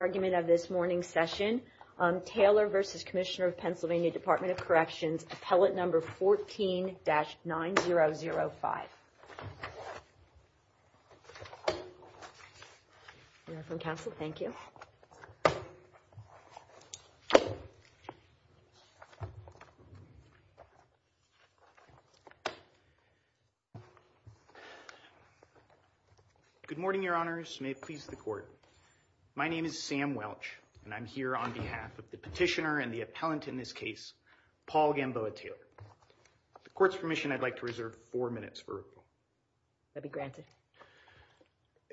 Appellate number 14-9005. Council, thank you. Good morning, Your Honors. May it please the court. My name is Sam Welch, and I'm here on behalf of the petitioner and the appellant in this case, Paul Gamboa Taylor. With the court's permission, I'd like to reserve four minutes for review. That'd be granted.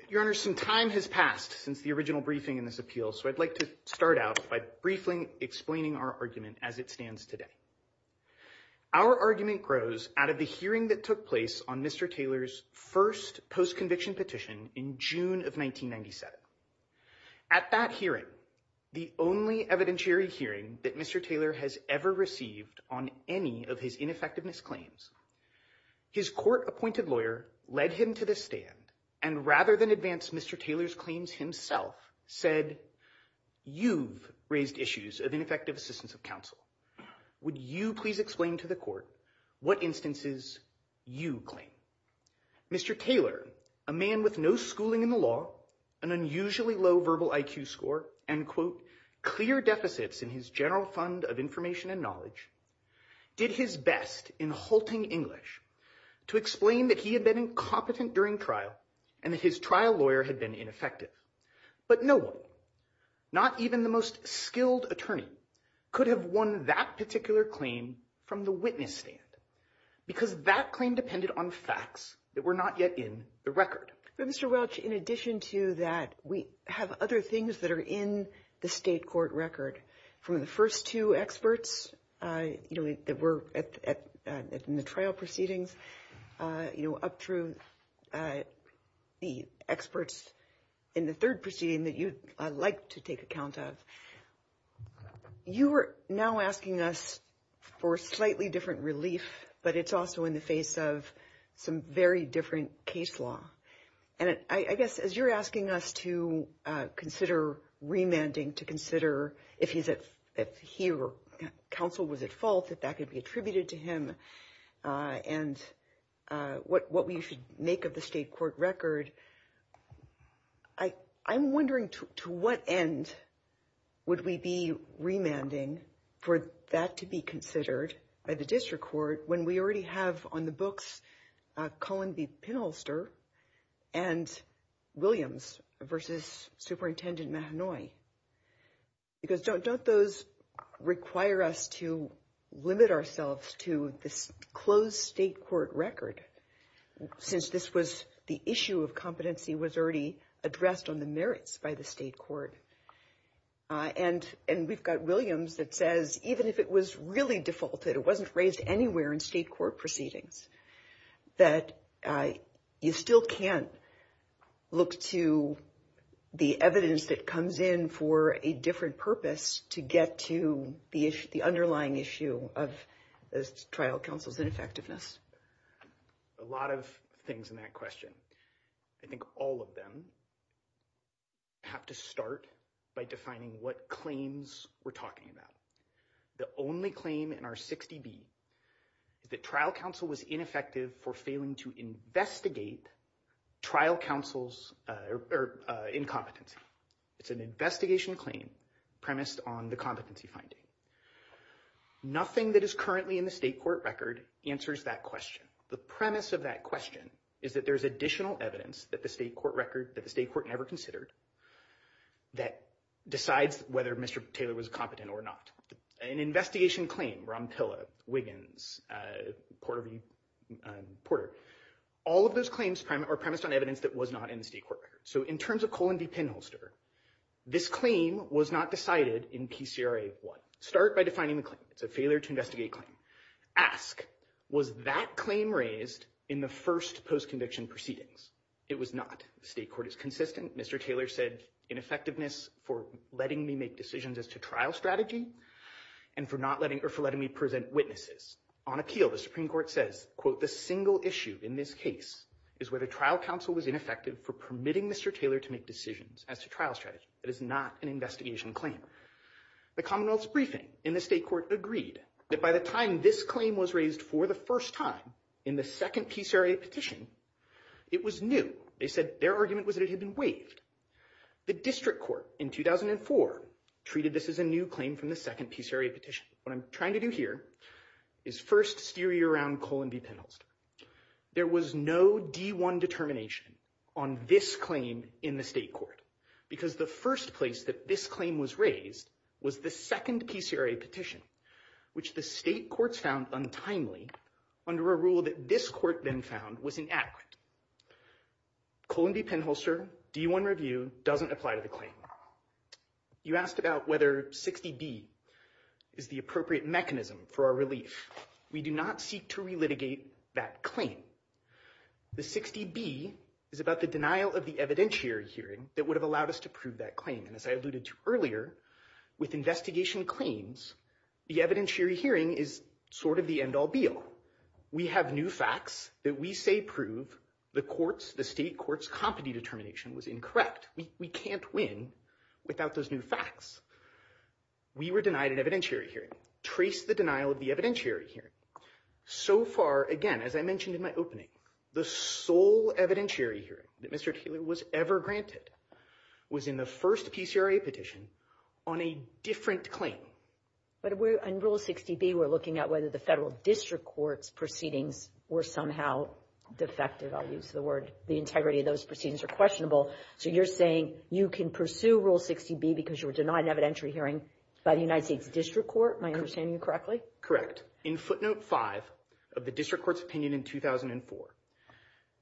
Your Honors, some time has passed since the original briefing in this appeal, so I'd like to start out by briefly explaining our argument as it stands today. Our argument grows out of the hearing that took place on Mr. Taylor's first post-conviction petition in June of 1997. At that hearing, the only evidentiary hearing that Mr. Taylor has ever received on any of his ineffectiveness claims, his court-appointed lawyer led him to the stand and, rather than advance Mr. Taylor's claims himself, said, you've raised issues of ineffective assistance of counsel. Would you please explain to the court what instances you claim? Mr. Taylor, a man with no schooling in the law, an unusually low verbal IQ score, and, quote, clear deficits in his general fund of information and knowledge, did his best in halting English to explain that he had been incompetent during trial and that his trial lawyer had been ineffective. But no one, not even the most skilled attorney, could have won that particular claim from the witness stand because that claim depended on facts that were not yet in the record. Mr. Welch, in addition to that, we have other things that are in the state court record. From the first two experts that were in the trial proceedings up through the experts in the third proceeding that you'd like to take account of, you are now asking us for slightly different relief, but it's also in the face of some very different case law. And I guess as you're asking us to consider remanding, to consider if he or counsel was at fault, if that could be attributed to him, and what we should make of the state court record, I'm wondering to what end would we be remanding for that to be considered by the district court when we already have on the books Cullen v. Pinholster and Williams v. Superintendent Mahanoy? Because don't those require us to limit ourselves to this closed state court record since this was the issue of competency was already addressed on the merits by the state court? And we've got Williams that says even if it was really defaulted, it wasn't raised anywhere in state court proceedings, that you still can't look to the evidence that comes in for a different purpose to get to the underlying issue of the trial counsel's ineffectiveness. A lot of things in that question. I think all of them have to start by defining what claims we're talking about. The only claim in our 60B that trial counsel was ineffective for failing to investigate trial counsel's incompetence. It's an investigation claim premised on the competency finding. Nothing that is currently in the state court record answers that question. The premise of that question is that there's additional evidence that the state court never considered that decides whether Mr. Taylor was competent or not. An investigation claim, Rompilla, Wiggins, Porter, all of those claims are premised on evidence that was not in the state court record. So in terms of Cullen v. Penholster, this claim was not decided in TCRA 1. Start by defining the claim. It's a failure to investigate claim. Ask, was that claim raised in the first post-conviction proceedings? It was not. The state court is consistent. Mr. Taylor said ineffectiveness for letting me make decisions as to trial strategy and for letting me present witnesses. On appeal, the Supreme Court says, quote, the single issue in this case is whether trial counsel was ineffective for permitting Mr. Taylor to make decisions as to trial strategy. That is not an investigation claim. The commonwealth's briefing in the state court agreed that by the time this claim was raised for the first time in the second piece area petition, it was new. They said their argument was that it should be waived. The district court in 2004 treated this as a new claim from the second piece area petition. What I'm trying to do here is first steer you around Cullen v. Penholster. There was no D1 determination on this claim in the state court because the first place that this claim was raised was the second piece area petition, which the state court found untimely under a rule that this court then found was inadequate. Cullen v. Penholster, D1 review, doesn't apply to the claim. You asked about whether 60B is the appropriate mechanism for our relief. We do not seek to relitigate that claim. The 60B is about the denial of the evidentiary hearing that would have allowed us to prove that claim. And as I alluded to earlier, with investigation claims, the evidentiary hearing is sort of the end all be all. We have new facts that we say prove the state court's competency determination was incorrect. We can't win without those new facts. We were denied an evidentiary hearing. Trace the denial of the evidentiary hearing. So far, again, as I mentioned in my opening, the sole evidentiary hearing that was ever granted was in the first piece area petition on a different claim. In Rule 60B, we're looking at whether the federal district court's proceedings were somehow defective. I'll use the word. The integrity of those proceedings are questionable. So you're saying you can pursue Rule 60B because you were denied an evidentiary hearing by the United States District Court? Am I understanding you correctly? Correct. In footnote 5 of the district court's opinion in 2004,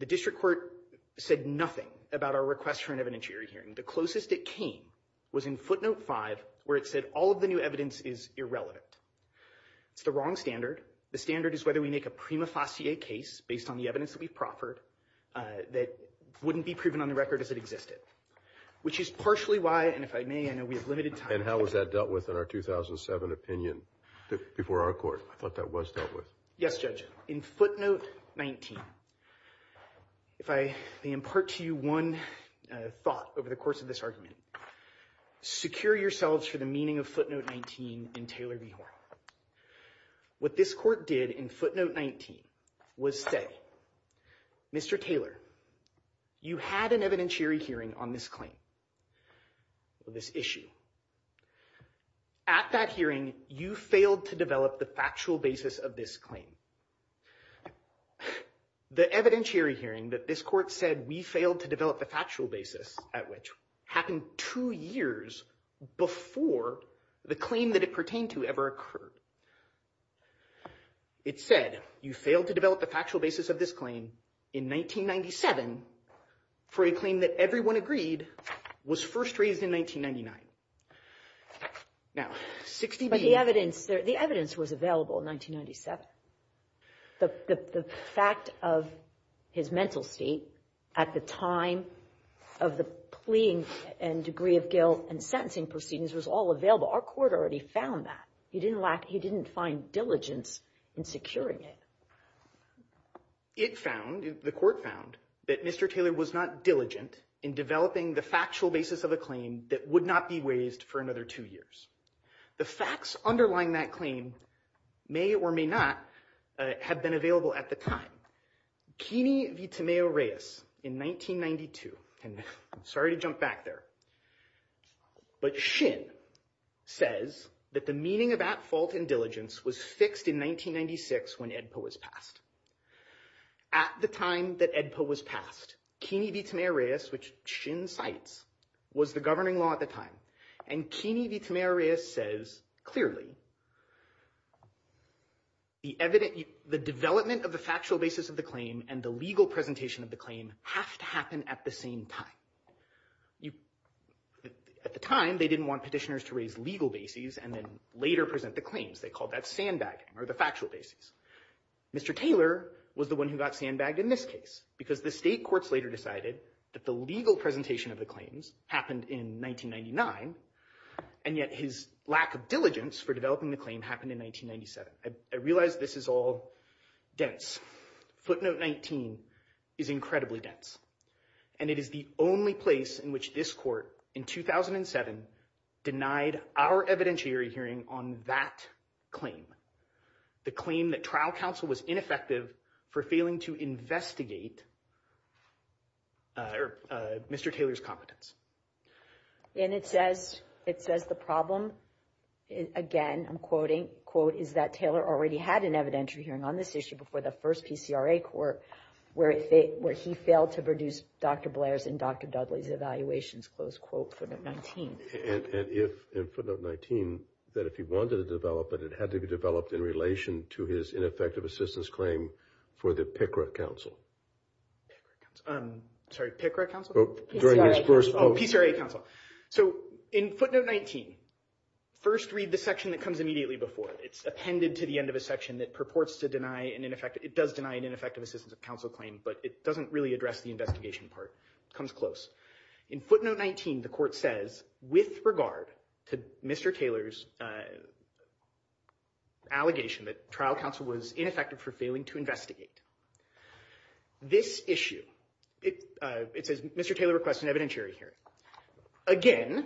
the district court said nothing about our request for an evidentiary hearing. The closest it came was in footnote 5 where it said all of the new evidence is irrelevant. It's the wrong standard. The standard is whether we make a prima facie case based on the evidence that we've proffered that wouldn't be proven on the record if it existed, which is partially why, and if I may, I know we have limited time. And how was that dealt with in our 2007 opinion before our court? I thought that was dealt with. Yes, Judge. In footnote 19, if I may impart to you one thought over the course of this argument, secure yourselves for the meaning of footnote 19 in Taylor v. Hoare. What this court did in footnote 19 was say, Mr. Taylor, you had an evidentiary hearing on this claim or this issue. At that hearing, you failed to develop the factual basis of this claim. The evidentiary hearing that this court said we failed to develop the factual basis at which happened two years before the claim that it pertained to ever occurred. It said you failed to develop the factual basis of this claim in 1997 for a claim that everyone agreed was first raised in 1999. But the evidence was available in 1997. The fact of his mental state at the time of the plea and degree of guilt and sentencing proceedings was all available. Our court already found that. He didn't find diligence in securing it. It found, the court found, that Mr. Taylor was not diligent in developing the factual basis of a claim that would not be raised for another two years. The facts underlying that claim may or may not have been available at the time. Keeney v. Tamayo-Reyes in 1992, and I'm sorry to jump back there, but Shin says that the meaning of at fault and diligence was fixed in 1996 when AEDPA was passed. At the time that AEDPA was passed, Keeney v. Tamayo-Reyes, which Shin cites, was the governing law at the time. And Keeney v. Tamayo-Reyes says clearly the development of the factual basis of the claim and the legal presentation of the claim has to happen at the same time. At the time, they didn't want petitioners to raise legal bases and then later present the claims. They called that sandbagging or the factual basis. Mr. Taylor was the one who got sandbagged in this case because the state courts later decided that the legal presentation of the claims happened in 1999, and yet his lack of diligence for developing the claim happened in 1997. I realize this is all dense. Footnote 19 is incredibly dense, and it is the only place in which this court in 2007 denied our evidentiary hearing on that claim, the claim that trial counsel was ineffective for failing to investigate Mr. Taylor's competence. And it says the problem, again, I'm quoting, quote, is that Taylor already had an evidentiary hearing on this issue before the first PCRA court where he failed to produce Dr. Blair's and Dr. Dudley's evaluations, close quote, footnote 19. And if, in footnote 19, that if he wanted to develop it, it had to be developed in relation to his ineffective assistance claim for the PCRA counsel. Sorry, PCRA counsel? During his first post. Oh, PCRA counsel. So in footnote 19, first read the section that comes immediately before it. It's appended to the end of the section that purports to deny an ineffective, it does deny an ineffective assistance of counsel claim, but it doesn't really address the investigation part. It comes close. In footnote 19, the court says, with regard to Mr. Taylor's allegation that trial counsel was ineffective for failing to investigate, this issue, it says Mr. Taylor requests an evidentiary hearing. Again,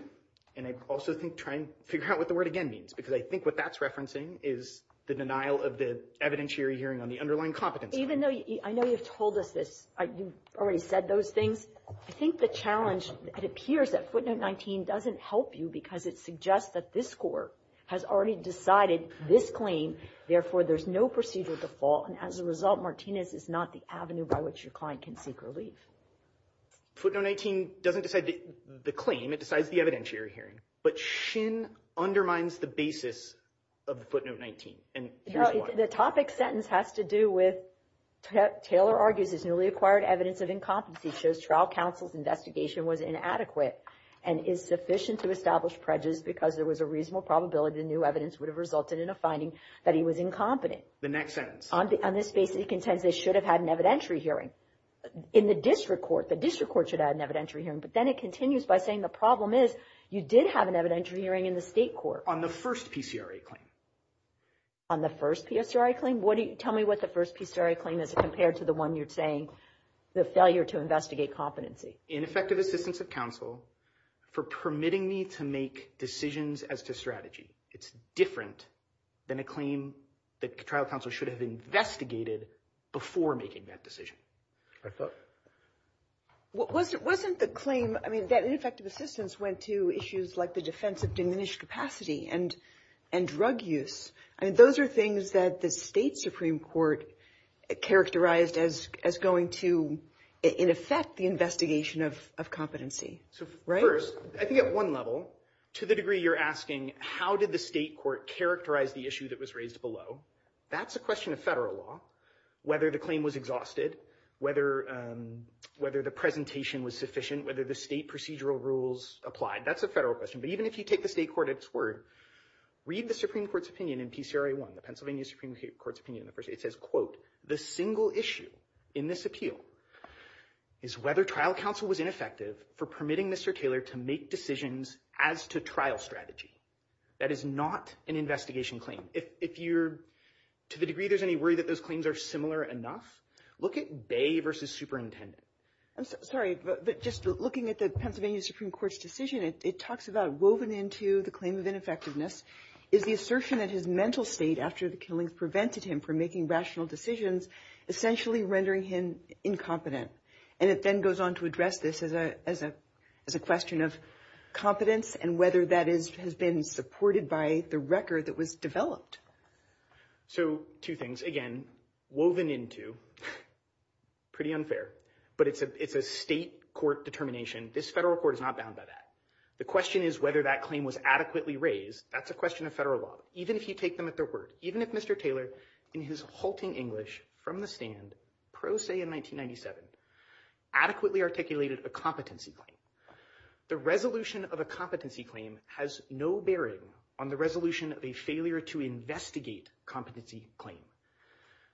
and I also think trying to figure out what the word again means, because I think what that's referencing is the denial of the evidentiary hearing on the underlying competence. Even though, I know you've told us this, you've already said those things. I think the challenge, it appears that footnote 19 doesn't help you because it suggests that this court has already decided this claim, therefore there's no procedure at the fault. And as a result, Martinez is not the avenue by which your client can seek relief. Footnote 19 doesn't decide the claim. It decides the evidentiary hearing. But Shin undermines the basis of footnote 19. The topic sentence has to do with Taylor argues his newly acquired evidence of incompetence. He shows trial counsel's investigation was inadequate and is sufficient to establish prejudice because there was a reasonable probability the new evidence would have resulted in a finding that he was incompetent. The next sentence. On this basis, he contends they should have had an evidentiary hearing. In the district court, the district court should have had an evidentiary hearing, but then it continues by saying the problem is you did have an evidentiary hearing in the state court. On the first PCRA claim. On the first PCRA claim? Tell me what the first PCRA claim is compared to the one you're saying, the failure to investigate competency. Ineffective assistance of counsel for permitting me to make decisions as to strategy. It's different than a claim that trial counsel should have investigated before making that decision. Wasn't the claim that ineffective assistance went to issues like the defense of diminished capacity and drug use? Those are things that the state Supreme Court characterized as going to, in effect, the investigation of competency. First, I think at one level, to the degree you're asking how did the state court characterize the issue that was raised below, that's a question of federal law. Whether the claim was exhausted, whether the presentation was sufficient, whether the state procedural rules applied, that's a federal question. But even if you take the state court at its word, read the Supreme Court's opinion in PCRA 1, the Pennsylvania Supreme Court's opinion. It says, quote, the single issue in this appeal is whether trial counsel was ineffective for permitting Mr. Taylor to make decisions as to trial strategy. That is not an investigation claim. If you're, to the degree there's any worry that those claims are similar enough, look at Bay versus superintendent. I'm sorry, but just looking at the Pennsylvania Supreme Court's decision, it talks about woven into the claim of ineffectiveness is the assertion that his mental state after the killing prevented him from making rational decisions, essentially rendering him incompetent. And it then goes on to address this as a question of competence and whether that has been supported by the record that was developed. So two things. Again, woven into, pretty unfair, but it's a state court determination. This federal court is not bound by that. The question is whether that claim was adequately raised. That's a question of federal law. Even if he take them at their word, even if Mr. Taylor, in his halting English from the stand, pro se in 1997, adequately articulated a competency claim. The resolution of a competency claim has no bearing on the resolution of a failure to investigate competency claim.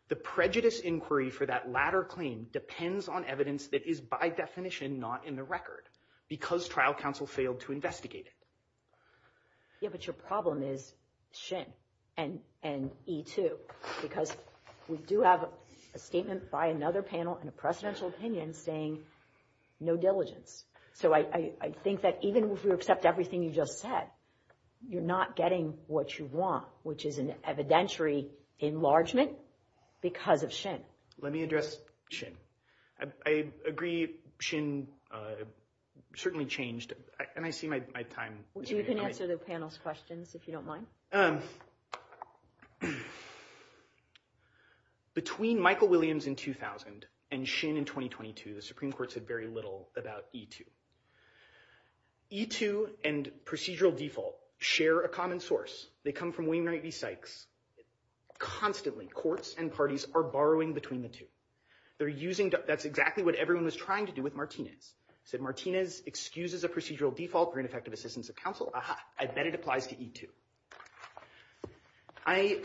The prejudice inquiry for that latter claim depends on evidence that is by definition not in the record because trial counsel failed to investigate it. Yeah, but your problem is Shin and E2 because we do have a statement by another panel in a presidential opinion saying no diligence. So I think that even if you accept everything you just said, you're not getting what you want, which is an evidentiary enlargement because of Shin. Let me address Shin. I agree Shin certainly changed, and I see my time. You can answer the panel's questions if you don't mind. Between Michael Williams in 2000 and Shin in 2022, the Supreme Court said very little about E2. E2 and procedural default share a common source. They come from Wayne Wright v. Sykes. Constantly, courts and parties are borrowing between the two. That's exactly what everyone was trying to do with Martinez. Said Martinez excuses a procedural default for ineffective assistance of counsel. Aha, I bet it applies to E2. I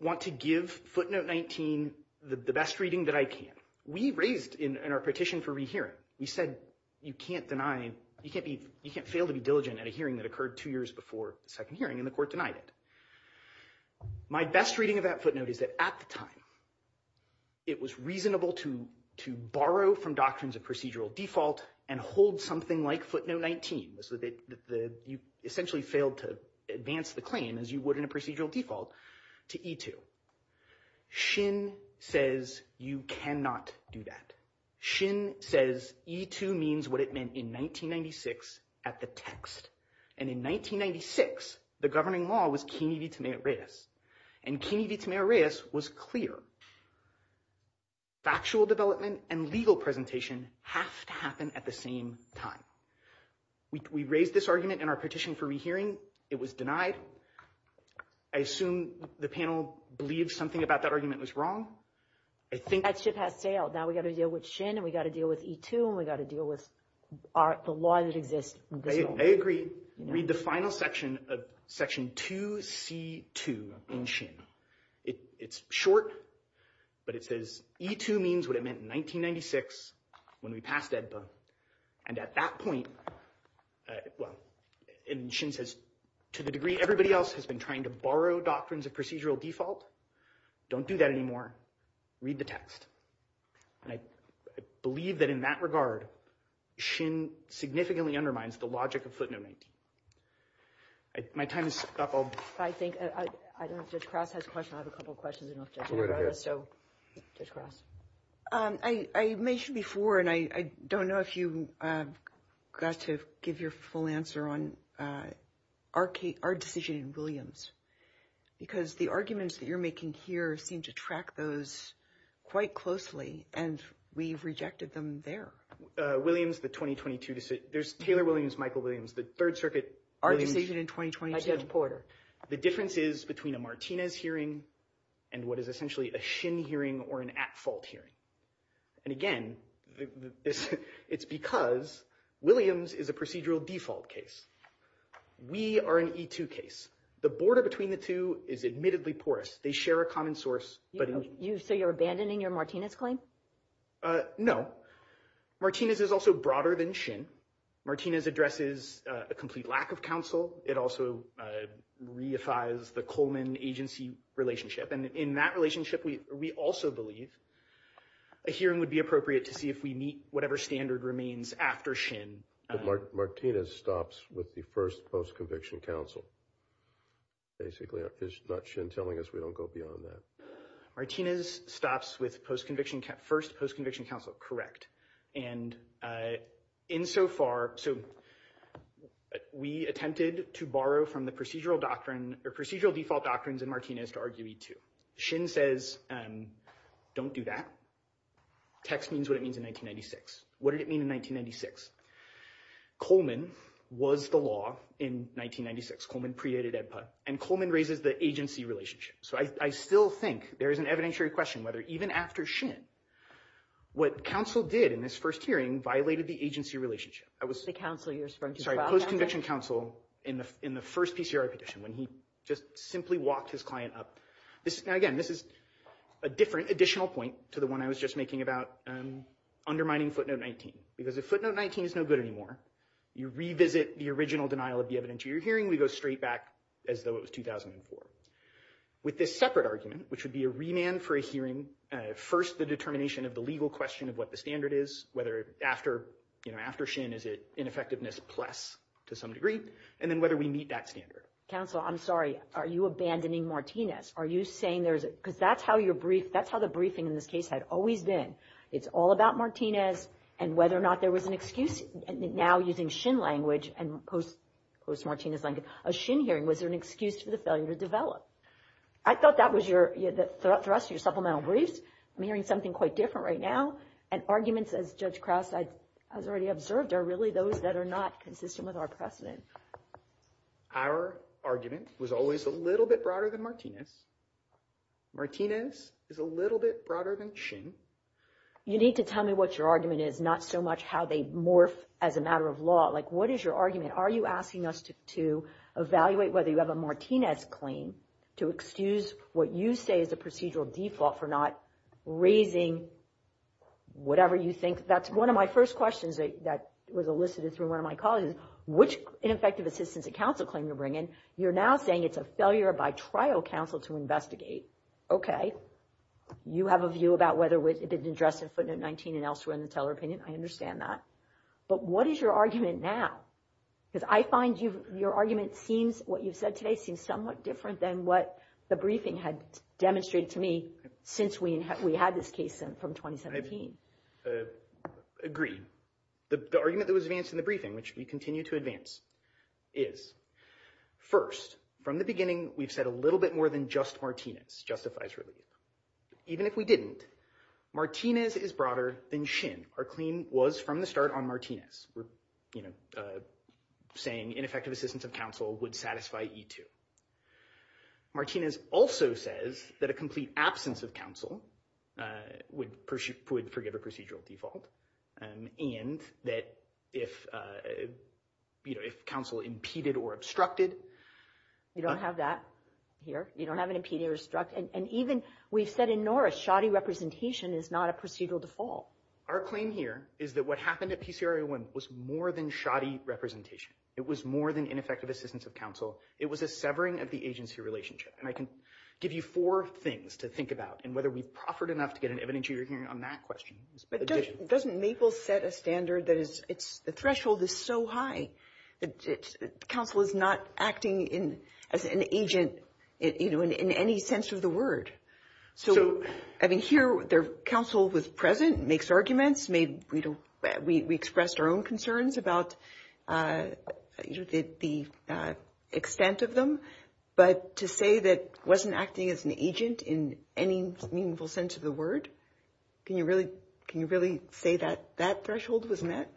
want to give footnote 19 the best reading that I can. We raised in our petition for rehearing, we said you can't fail to be diligent at a hearing that occurred two years before the second hearing, and the court denied it. My best reading of that footnote is that at the time, it was reasonable to borrow from doctrines of procedural default and hold something like footnote 19. You essentially failed to advance the claim as you would in a procedural default to E2. Shin says you cannot do that. Shin says E2 means what it meant in 1996 at the text. And in 1996, the governing law was Kennedy v. Tomei-Reyes, and Kennedy v. Tomei-Reyes was clear. Factual development and legal presentation has to happen at the same time. We raised this argument in our petition for rehearing. It was denied. I assume the panel believes something about that argument was wrong. I think that ship has sailed. Now we've got to deal with Shin, and we've got to deal with E2, and we've got to deal with the law that exists. I agree. Read the final section of section 2C2 in Shin. It's short, but it says E2 means what it meant in 1996 when we passed EDPA. And at that point, well, and Shin says to the degree everybody else has been trying to borrow doctrines of procedural default, don't do that anymore. Read the text. And I believe that in that regard, Shin significantly undermines the logic of footnotes. My time is up. I think I don't know if Judge Krause has a question. I have a couple of questions. I mentioned before, and I don't know if you got to give your full answer on our decision in Williams, because the arguments that you're making here seem to track those quite closely, and we've rejected them there. Williams, the 2022 decision. There's Taylor Williams, Michael Williams, the Third Circuit. Our decision in 2022. Judge Porter. The difference is between a Martinez hearing and what is essentially a Shin hearing or an at-fault hearing. And again, it's because Williams is a procedural default case. We are an E2 case. The border between the two is admittedly porous. They share a common source. So you're abandoning your Martinez claim? No. Martinez is also broader than Shin. Martinez addresses a complete lack of counsel. It also reifies the Coleman agency relationship. And in that relationship, we also believe a hearing would be appropriate to see if we meet whatever standard remains after Shin. But Martinez stops with the first post-conviction counsel, basically. It's not Shin telling us we don't go beyond that. Martinez stops with first post-conviction counsel, correct. And insofar, so we attempted to borrow from the procedural default doctrines in Martinez to argue E2. Shin says, don't do that. Text means what it means in 1996. What did it mean in 1996? Coleman was the law in 1996. Coleman created EDPA. And Coleman raises the agency relationship. So I still think there is an evidentiary question whether even after Shin, what counsel did in this first hearing violated the agency relationship. The counsel you're referring to? Sorry, post-conviction counsel in the first PCR petition when he just simply walked his client up. Now, again, this is a different additional point to the one I was just making about undermining footnote 19. Because if footnote 19 is no good anymore, you revisit the original denial of the evidentiary hearing. We go straight back as though it was 2004. With this separate argument, which would be a remand for a hearing, first the determination of the legal question of what the standard is, whether after Shin is it ineffectiveness plus to some degree, and then whether we meet that standard. Counsel, I'm sorry. Are you abandoning Martinez? Are you saying there's a – because that's how your brief – that's how the briefing in this case had always been. It's all about Martinez and whether or not there was an excuse. Now using Shin language and post-Martinez language, a Shin hearing was an excuse for the failure to develop. I thought that was your – for us, your supplemental brief. I'm hearing something quite different right now. And arguments, as Judge Krause has already observed, are really those that are not consistent with our precedents. Our argument was always a little bit broader than Martinez. Martinez is a little bit broader than Shin. You need to tell me what your argument is, not so much how they morph as a matter of law. Like what is your argument? Are you asking us to evaluate whether you have a Martinez claim to excuse what you say is a procedural default for not raising whatever you think? That's one of my first questions that was elicited through one of my colleagues. Which ineffective assistance did counsel claim to bring in? You're now saying it's a failure by trial counsel to investigate. Okay. You have a view about whether it didn't address the footnote 19 and elsewhere in the teller opinion. I understand that. But what is your argument now? Because I find your argument seems – what you said today seems somewhat different than what the briefing had demonstrated to me since we had this case from 2017. Agreed. The argument that was advanced in the briefing, which we continue to advance, is first, from the beginning, we've said a little bit more than just Martinez justifies relief. Even if we didn't, Martinez is broader than Shin. Our claim was from the start on Martinez. We're saying ineffective assistance of counsel would satisfy E2. Martinez also says that a complete absence of counsel would forgive a procedural default and that if counsel impeded or obstructed – You don't have that here. You don't have an impeded or obstructed. And even we've said in Norris shoddy representation is not a procedural default. Our claim here is that what happened at PCR-A1 was more than shoddy representation. It was more than ineffective assistance of counsel. It was a severing of the agency relationship. And I can give you four things to think about and whether we proffered enough to get an evidentiary hearing on that question. But doesn't Mabel set a standard that is – the threshold is so high that counsel is not acting as an agent in any sense of the word? So, I mean, here counsel was present, makes arguments. We expressed our own concerns about the extent of them. But to say that wasn't acting as an agent in any meaningful sense of the word, can you really say that that threshold was met?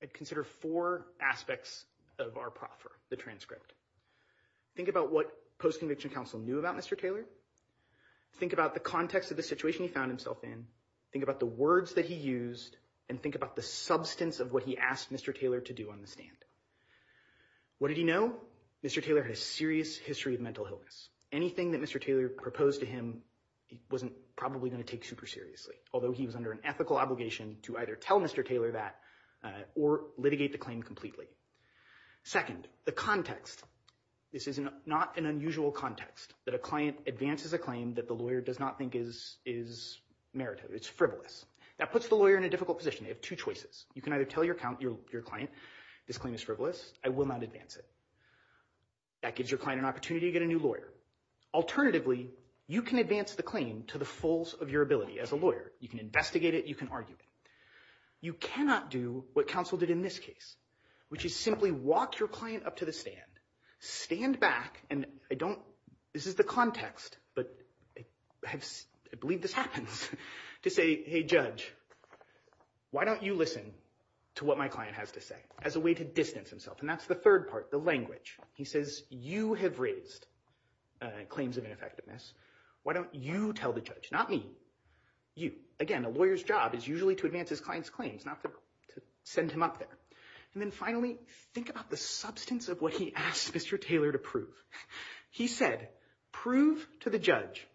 I'd consider four aspects of our proffer, the transcript. Think about what post-conviction counsel knew about Mr. Taylor. Think about the context of the situation he found himself in. Think about the words that he used. And think about the substance of what he asked Mr. Taylor to do on the stand. What did he know? Mr. Taylor had a serious history of mental illness. Anything that Mr. Taylor proposed to him, he wasn't probably going to take super seriously, although he was under an ethical obligation to either tell Mr. Taylor that or litigate the claim completely. Second, the context. This is not an unusual context that a client advances a claim that the lawyer does not think is merited. It's frivolous. That puts the lawyer in a difficult position. You have two choices. You can either tell your client this claim is frivolous. I will not advance it. That gives your client an opportunity to get a new lawyer. Alternatively, you can advance the claim to the fullest of your ability as a lawyer. You can investigate it. You can argue it. You cannot do what counsel did in this case, which is simply walk your client up to the stand, stand back, and I don't – this is the context, but I believe this happens, to say, hey, judge, why don't you listen to what my client has to say as a way to distance himself? And that's the third part, the language. He says, you have raised claims of ineffectiveness. Why don't you tell the judge, not me, you? Again, a lawyer's job is usually to advance his client's claims, not to send him up there. And then finally, think about the substance of what he asked Mr. Taylor to prove. He said, prove to the judge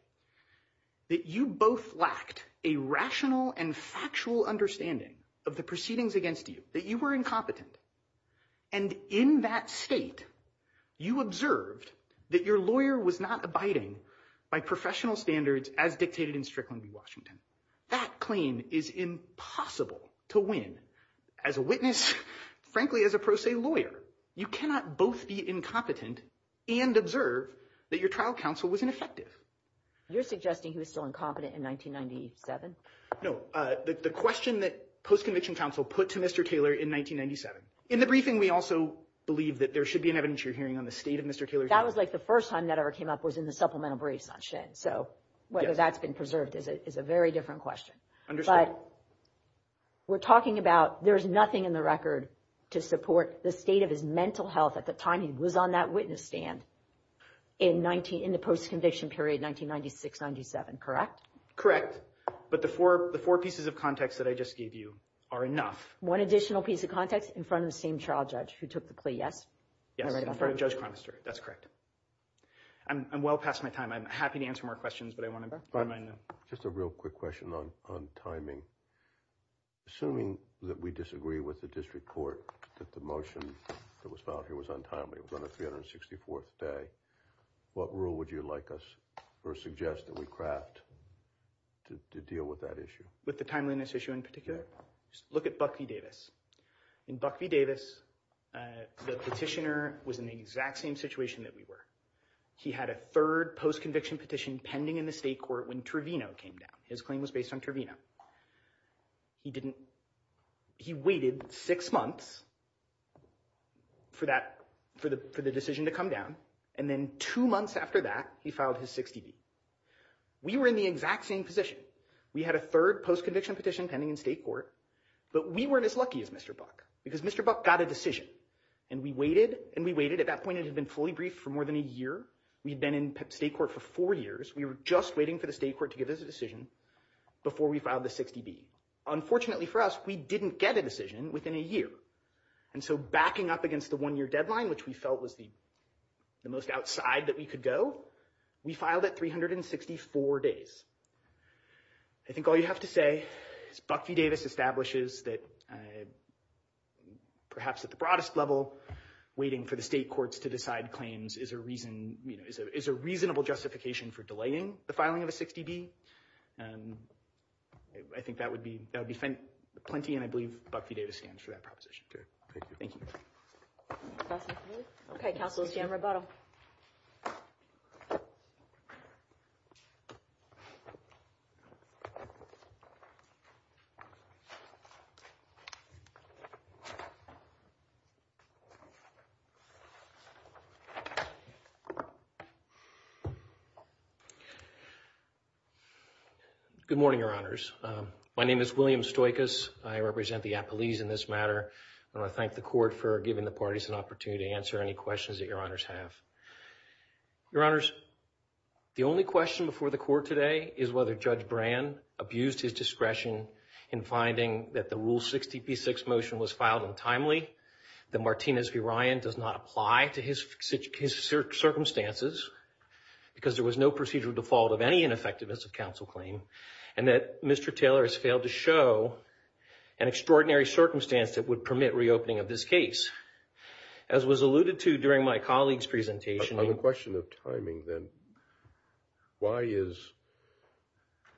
that you both lacked a rational and factual understanding of the proceedings against you, that you were incompetent, and in that state, you observed that your lawyer was not abiding by professional standards as dictated in Strickland v. Washington. That claim is impossible to win as a witness, frankly, as a pro se lawyer. You cannot both be incompetent and observe that your trial counsel was ineffective. You're suggesting he was still incompetent in 1997? No, the question that post-conviction counsel put to Mr. Taylor in 1997. In the briefing, we also believe that there should be an evidence you're hearing on the state of Mr. Taylor's case. That was like the first time that ever came up was in the supplemental brief, not shed. So whether that's been preserved is a very different question. But we're talking about there's nothing in the record to support the state of his mental health at the time he was on that witness stand in the post-conviction period, 1996-97, correct? Correct, but the four pieces of context that I just gave you are enough. One additional piece of context in front of the same trial judge who took the plea, yes? Yes, in front of Judge Conister, that's correct. I'm well past my time. I'm happy to answer more questions, but I wanted to remind you. Just a real quick question on timing. Assuming that we disagree with the district court that the motion that was filed here was untimely, it was on the 364th day, what rule would you like us or suggest that we craft to deal with that issue? With the timeliness issue in particular? Look at Buck v. Davis. In Buck v. Davis, the petitioner was in the exact same situation that we were. He had a third post-conviction petition pending in the state court when Trevino came down. His claim was based on Trevino. He waited six months for the decision to come down, and then two months after that, he filed his 60D. We were in the exact same position. We had a third post-conviction petition pending in state court, but we weren't as lucky as Mr. Buck because Mr. Buck got a decision, and we waited, and we waited. At that point, it had been fully briefed for more than a year. We had been in state court for four years. We were just waiting for the state court to give us a decision before we filed the 60D. Unfortunately for us, we didn't get a decision within a year, and so backing up against the one-year deadline, which we felt was the most outside that we could go, we filed at 364 days. I think all you have to say is Buck v. Davis establishes that perhaps at the broadest level, waiting for the state courts to decide claims is a reasonable justification for delaying the filing of a 60D. I think that would be plenty, and I believe Buck v. Davis stands for that proposition. Thank you. Good morning, Your Honors. My name is William Stoikos. I represent the appellees in this matter, and I thank the court for giving the parties an opportunity to answer any questions that Your Honors have. Your Honors, the only question before the court today is whether Judge Brand abused his discretion in finding that the Rule 60p6 motion was filed untimely, that Martinez v. Ryan does not apply to his circumstances because there was no procedural default of any ineffectiveness of counsel claim, and that Mr. Taylor has failed to show an extraordinary circumstance that would permit reopening of this case. As was alluded to during my colleague's presentation... On the question of timing, then, why is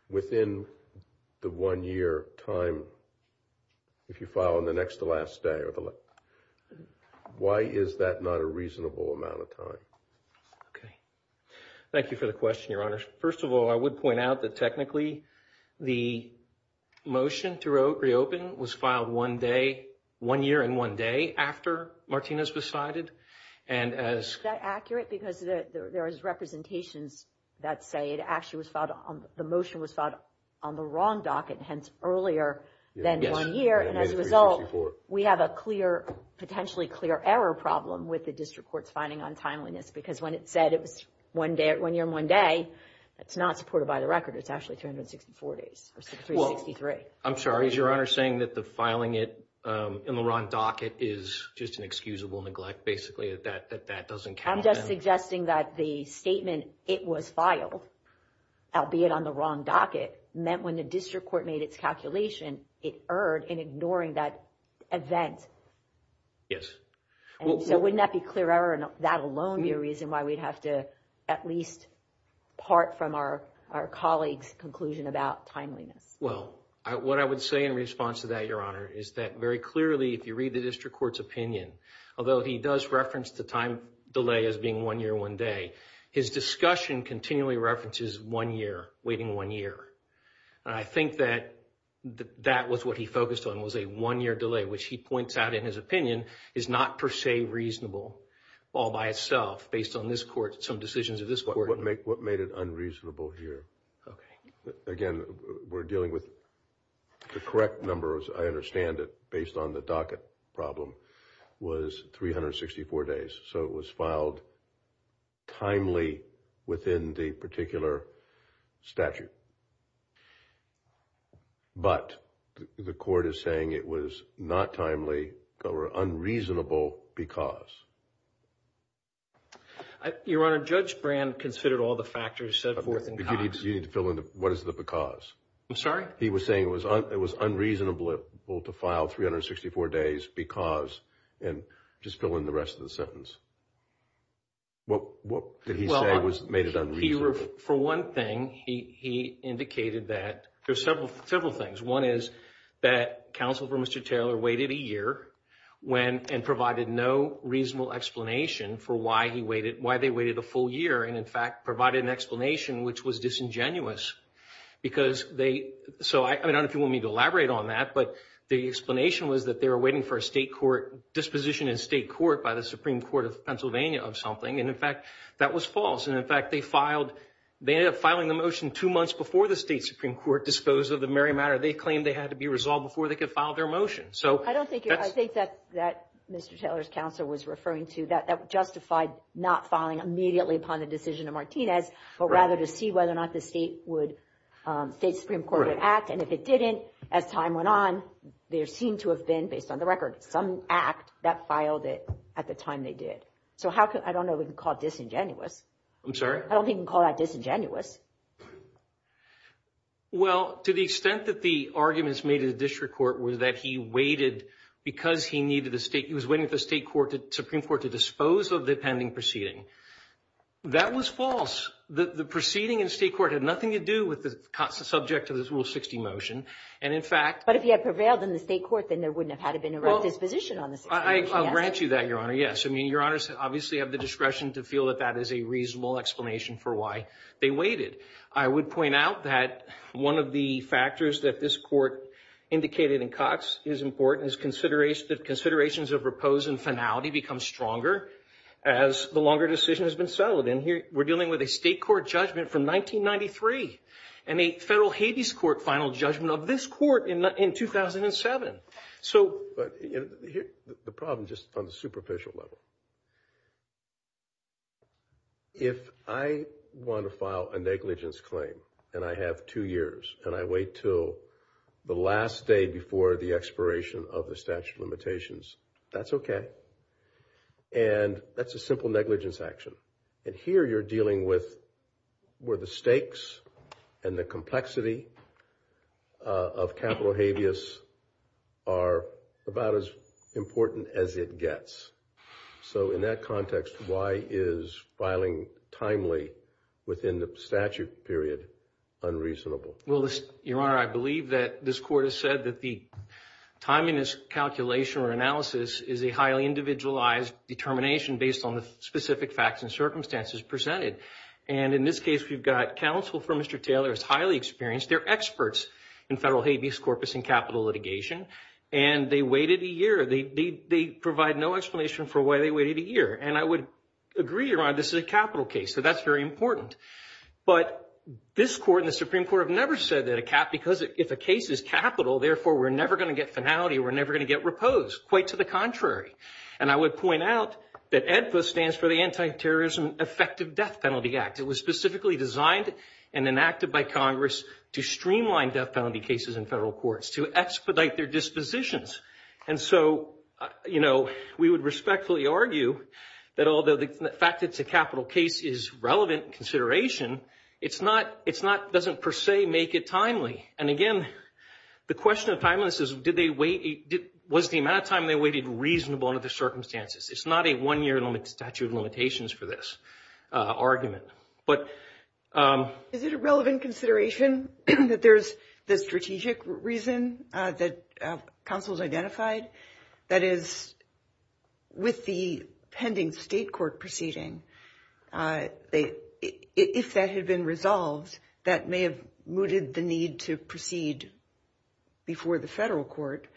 within the one-year time, if you file on the next to last day, why is that not a reasonable amount of time? Okay. Thank you for the question, Your Honors. First of all, I would point out that technically the motion to reopen was filed one day, one year and one day after Martinez was cited, and as... Is that accurate? Because there is representation that say the motion was filed on the wrong docket, hence earlier than one year, and as a result, we have a potentially clear error problem with the district court's finding untimeliness because when it said it was one year and one day, that's not supported by the record. It's actually 364 days, or 363. I'm sorry. Is Your Honor saying that the filing it in the wrong docket is just an excusable neglect, basically, that that doesn't count? I'm just suggesting that the statement, it was filed, albeit on the wrong docket, meant when the district court made its calculation, it erred in ignoring that event. Yes. Wouldn't that be clear error and that alone be a reason why we have to at least part from our colleague's conclusion about timeliness? Well, what I would say in response to that, Your Honor, is that very clearly if you read the district court's opinion, although he does reference the time delay as being one year, one day, his discussion continually references one year, waiting one year. I think that that was what he focused on was a one-year delay, which he points out in his opinion is not per se reasonable all by itself based on some decisions of this court. What made it unreasonable here? Okay. Again, we're dealing with the correct number, as I understand it, based on the docket problem was 364 days. So it was filed timely within the particular statute. But the court is saying it was not timely or unreasonable because. Your Honor, Judge Brand considered all the factors set forth in time. You need to fill in what is the because. I'm sorry? He was saying it was unreasonable to file 364 days because and just fill in the rest of the sentence. What did he say made it unreasonable? For one thing, he indicated that there's several things. One is that counsel for Mr. Taylor waited a year and provided no reasonable explanation for why they waited a full year and, in fact, provided an explanation which was disingenuous. I don't know if you want me to elaborate on that, but the explanation was that they were waiting for a disposition in state court by the Supreme Court of Pennsylvania of something, and, in fact, that was false. And, in fact, they ended up filing the motion two months before the state Supreme Court disposed of the merry matter. They claimed they had to be resolved before they could file their motion. I think that Mr. Taylor's counsel was referring to that justified not filing immediately upon the decision of Martinez, but rather to see whether or not the state Supreme Court would act. And if it didn't, as time went on, there seemed to have been, based on the record, some act that filed it at the time they did. I don't know if we can call that disingenuous. I'm sorry? I don't think we can call that disingenuous. Well, to the extent that the arguments made in the district court were that he waited because he was waiting for the Supreme Court to dispose of the pending proceeding, that was false. The proceeding in state court had nothing to do with the subject to this Rule 60 motion, and, in fact— But if he had prevailed in the state court, then there wouldn't have had to have been a disposition on the Supreme Court. I'll grant you that, Your Honor. Yes. I mean, Your Honors obviously have the discretion to feel that that is a reasonable explanation for why they waited. I would point out that one of the factors that this court indicated in Cox is important is that considerations of repose and finality become stronger as the longer decision has been settled. And we're dealing with a state court judgment from 1993 and a federal Hades court final judgment of this court in 2007. So the problem, just on the superficial level, if I want to file a negligence claim and I have two years and I wait until the last day before the expiration of the statute of limitations, that's okay. And that's a simple negligence action. And here you're dealing with where the stakes and the complexity of capital habeas are about as important as it gets. So in that context, why is filing timely within the statute period unreasonable? Well, Your Honor, I believe that this court has said that the timeliness calculation or analysis is a highly individualized determination based on the specific facts and circumstances presented. And in this case, we've got counsel for Mr. Taylor is highly experienced. They're experts in federal habeas corpus and capital litigation. And they waited a year. They provide no explanation for why they waited a year. And I would agree, Your Honor, this is a capital case. So that's very important. But this court and the Supreme Court have never said that because if a case is capital, therefore we're never going to get finality, we're never going to get repose. Quite to the contrary. And I would point out that AEDPA stands for the Anti-Terrorism Effective Death Act. It was specifically designed and enacted by Congress to streamline death penalty cases in federal courts, to expedite their dispositions. And so, you know, we would respectfully argue that although the fact that it's a capital case is relevant in consideration, it doesn't per se make it timely. And again, the question of timeliness is was the amount of time they waited reasonable under the circumstances. It's not a one-year statute of limitations for this argument. Is it a relevant consideration that there's the strategic reason that counsels identified? That is, with the pending state court proceeding, if that had been resolved, that may have mooted the need to proceed before the federal court.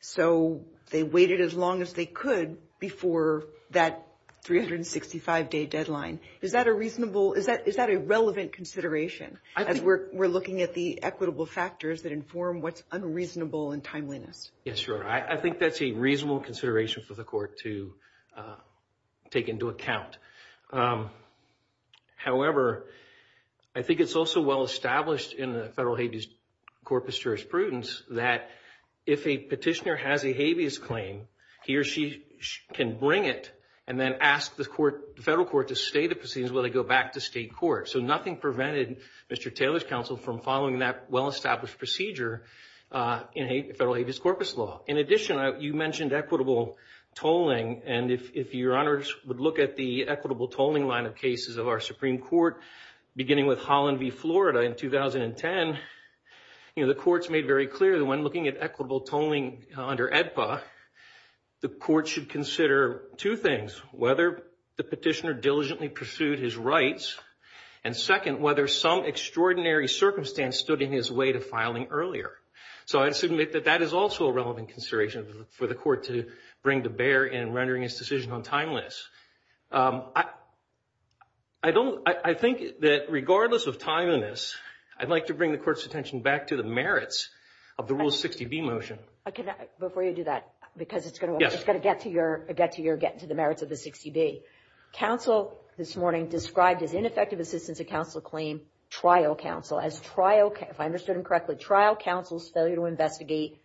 So they waited as long as they could before that 365-day deadline. Is that a reasonable, is that a relevant consideration? I think we're looking at the equitable factors that inform what's unreasonable and timeliness. Yes, sure. I think that's a reasonable consideration for the court to take into account. However, I think it's also well established in the Federal Hagee's Corpus Jurisprudens that if a petitioner has a habeas claim, he or she can bring it and then ask the federal court to stay the proceedings while they go back to state court. So nothing prevented Mr. Taylor's counsel from following that well-established procedure in Federal Hagee's Corpus law. In addition, you mentioned equitable tolling, and if your honors would look at the equitable tolling line of cases of our Supreme Court, beginning with Holland v. Florida in 2010, the court's made very clear that when looking at equitable tolling under AEDPA, the court should consider two things, whether the petitioner diligently pursued his rights, and second, whether some extraordinary circumstance stood in his way to filing earlier. So I'd submit that that is also a relevant consideration for the court to bring to bear in rendering his decision on timeliness. I think that regardless of timeliness, I'd like to bring the court's attention back to the merits of the Rule 60B motion. Before you do that, because it's going to get to your getting to the merits of the 60B, counsel this morning described as ineffective assistance to counsel claim trial counsel. As trial counsel, if I understood him correctly, trial counsel's failure to investigate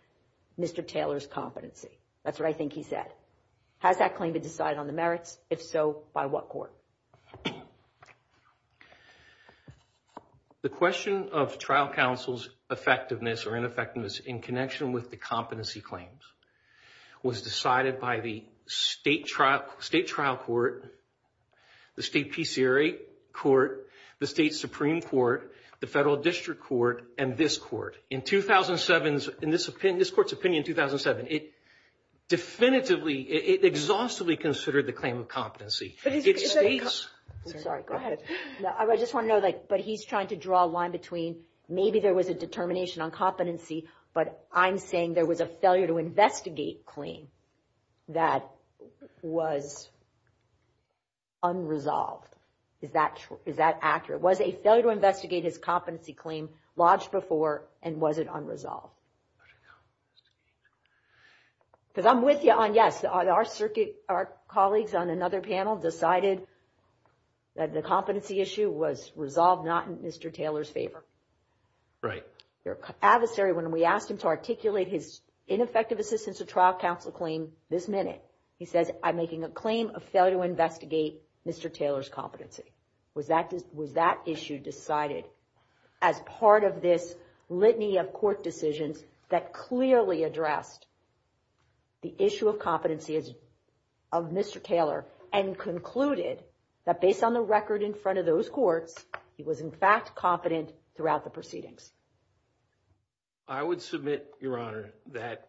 Mr. Taylor's competency. That's what I think he said. Has that claim been decided on the merits? If so, by what court? The question of trial counsel's effectiveness or ineffectiveness in connection with the competency claims was decided by the state trial court, the state PCRA court, the state Supreme Court, the federal district court, and this court. In 2007, in this court's opinion in 2007, it definitively, it exhaustively considered the claim of competency. Sorry, go ahead. No, I just want to know, like, but he's trying to draw a line between maybe there was a determination on competency, but I'm saying there was a failure to investigate claim that was unresolved. Is that accurate? Was a failure to investigate his competency claim lodged before and was it unresolved? Because I'm with you on, yes, our colleagues on another panel decided that the competency issue was resolved not in Mr. Taylor's favor. Right. Your adversary, when we asked him to articulate his ineffective assistance to trial counsel claim this minute, he said, I'm making a claim of failure to investigate Mr. Taylor's competency. Was that issue decided as part of this litany of court decisions that clearly addressed the issue of competency of Mr. Taylor and concluded that based on the record in front of those courts, he was, in fact, competent throughout the proceedings? I would submit, Your Honor, that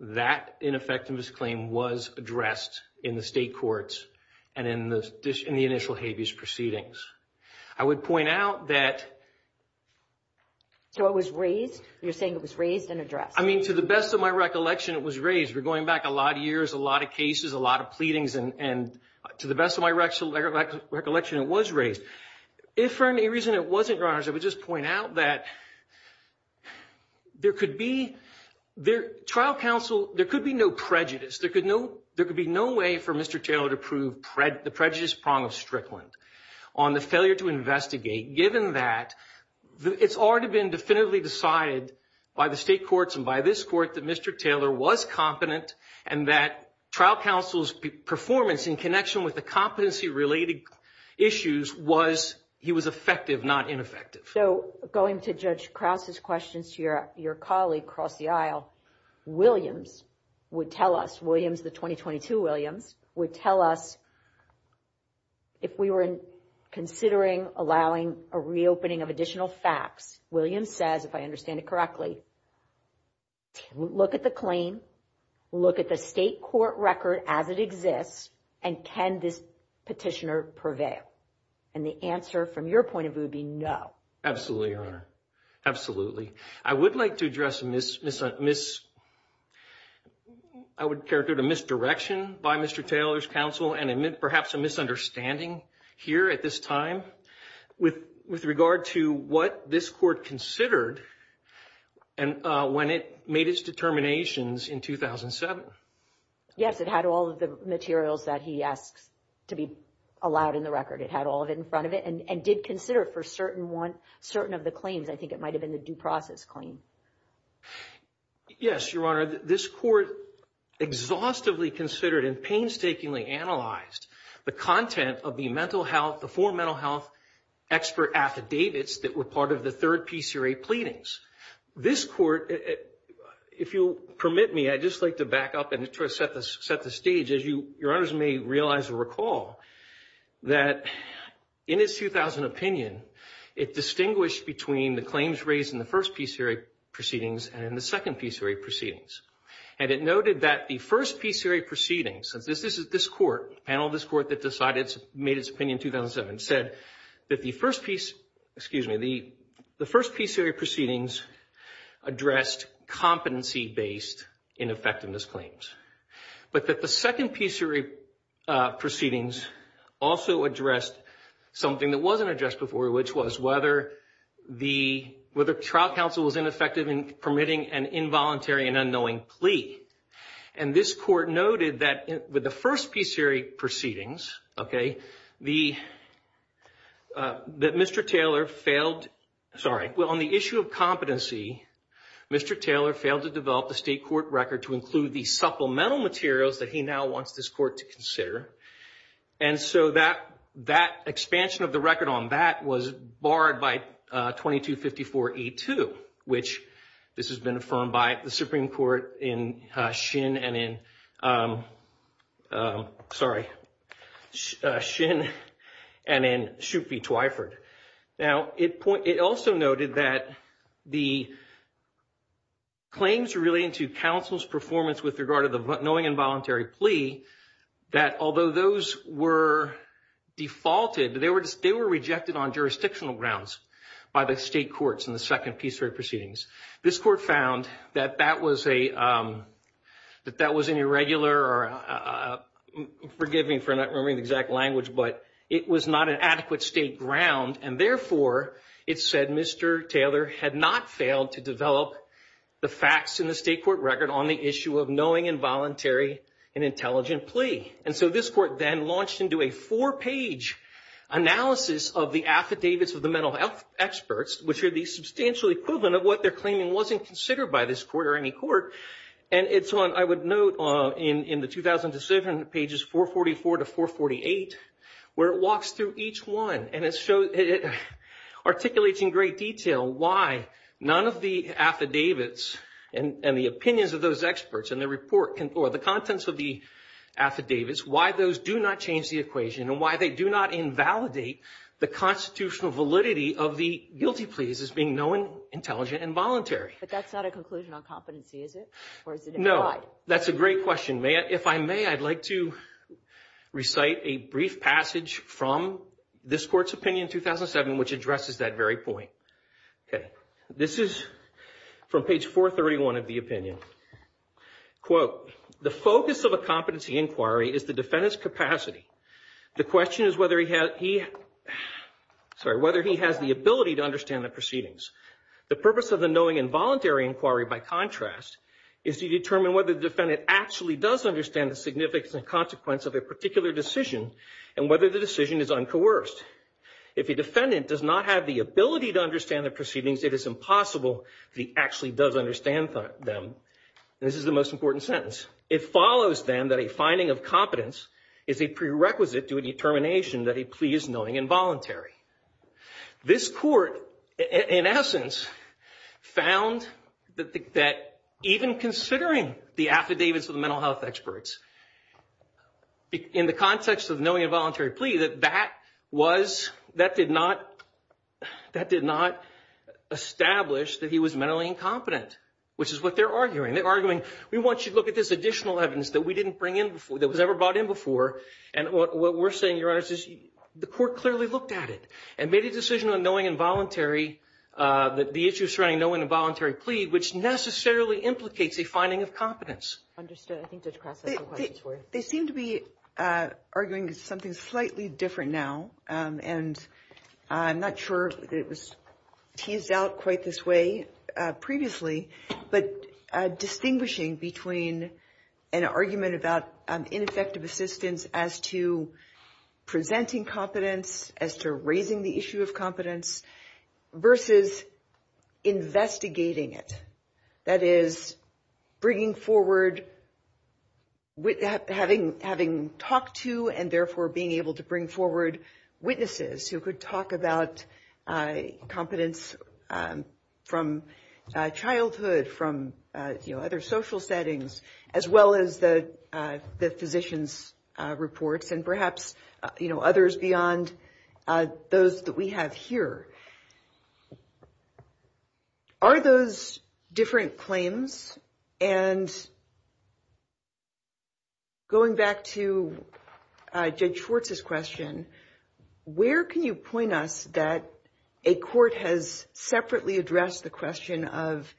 that ineffective claim was addressed in the state courts and in the initial habeas proceedings. I would point out that. So it was raised? You're saying it was raised and addressed? I mean, to the best of my recollection, it was raised. We're going back a lot of years, a lot of cases, a lot of pleadings, and to the best of my recollection, it was raised. If for any reason it wasn't, Your Honor, I would just point out that there could be, trial counsel, there could be no prejudice. There could be no way for Mr. Taylor to prove the prejudice prong of Strickland on the failure to investigate, given that it's already been definitively decided by the state courts and by this court that Mr. Taylor was competent and that trial counsel's performance in connection with the competency-related issues was he was effective, not ineffective. So going to Judge Krauts' questions, your colleague across the aisle, Williams would tell us, Williams, the 2022 Williams, would tell us if we were considering allowing a reopening of additional facts, Williams says, if I understand it correctly, look at the claim, look at the state court record as it exists, and can this petitioner prevail? And the answer from your point of view would be no. Absolutely, Your Honor. Absolutely. I would like to address a misdirection by Mr. Taylor's counsel and perhaps a misunderstanding here at this time with regard to what this court considered when it made its determinations in 2007. Yes, it had all of the materials that he asked to be allowed in the record. It had all of it in front of it and did consider it for certain of the claims. I think it might have been the due process claim. Yes, Your Honor. This court exhaustively considered and painstakingly analyzed the content of the mental health, the four mental health expert affidavits that were part of the third PCRA pleadings. This court, if you'll permit me, I'd just like to back up and set the stage, as Your Honors may realize and recall, that in its 2000 opinion, it distinguished between the claims raised in the first PCRA proceedings and in the second PCRA proceedings. And it noted that the first PCRA proceedings, this court, the panel of this court that decided, made its opinion in 2007, said that the first PCRA proceedings addressed competency-based ineffectiveness claims, but that the second PCRA proceedings also addressed something that wasn't addressed before, which was whether the trial counsel was ineffective in permitting an involuntary and unknowing plea. And this court noted that with the first PCRA proceedings, okay, that Mr. Taylor failed, sorry, well, on the issue of competency, Mr. Taylor failed to develop a state court record to include the supplemental materials that he now wants this court to consider. And so that expansion of the record on that was barred by 2254E2, which this has been affirmed by the Supreme Court in Shinn and in Shoup v. Twyford. Now, it also noted that the claims relating to counsel's performance with regard to the knowing involuntary plea, that although those were defaulted, they were rejected on jurisdictional grounds by the state courts in the second PCRA proceedings. This court found that that was an irregular, or forgive me for not remembering the exact language, but it was not an adequate state ground, and therefore it said Mr. Taylor had not failed to develop the facts in the state court record on the issue of knowing involuntary and intelligent plea. And so this court then launched into a four-page analysis of the affidavits of the mental health experts, which are the substantial equivalent of what they're claiming wasn't considered by this court or any court. And it's one I would note in the 2007 pages, 444 to 448, where it walks through each one, and it articulates in great detail why none of the affidavits and the opinions of those experts in the report, or the contents of the affidavits, why those do not change the equation and why they do not invalidate the constitutional validity of the guilty pleas as being knowing, intelligent, and voluntary. But that's not a conclusion on competency, is it? No, that's a great question. If I may, I'd like to recite a brief passage from this court's opinion in 2007, which addresses that very point. This is from page 431 of the opinion. Quote, the focus of a competency inquiry is the defendant's capacity. The question is whether he has the ability to understand the proceedings. The purpose of the knowing involuntary inquiry, by contrast, is to determine whether the defendant actually does understand the significance and consequence of a particular decision and whether the decision is uncoerced. If a defendant does not have the ability to understand the proceedings, it is impossible that he actually does understand them. This is the most important sentence. It follows, then, that a finding of competence is a prerequisite to a determination that a plea is knowing and voluntary. This court, in essence, found that even considering the affidavits of the mental health experts, in the context of knowing involuntary plea, that that did not establish that he was mentally incompetent, which is what they're arguing. They're arguing, we want you to look at this additional evidence that was never brought in before, and what we're saying, Your Honor, is the court clearly looked at it and made a decision on knowing involuntary, the issue surrounding knowing involuntary plea, which necessarily implicates a finding of competence. They seem to be arguing something slightly different now, and I'm not sure that it was teased out quite this way previously, but distinguishing between an argument about ineffective assistance as to presenting competence, as to raising the issue of competence, versus investigating it. I'm not sure that that is the case. That is, bringing forward, having talked to, and therefore being able to bring forward witnesses who could talk about competence from childhood, from other social settings, as well as the physician's reports, and perhaps others beyond those that we have here. Are those different claims? And going back to Judge Schwartz's question, where can you point us that a court has separately addressed the question of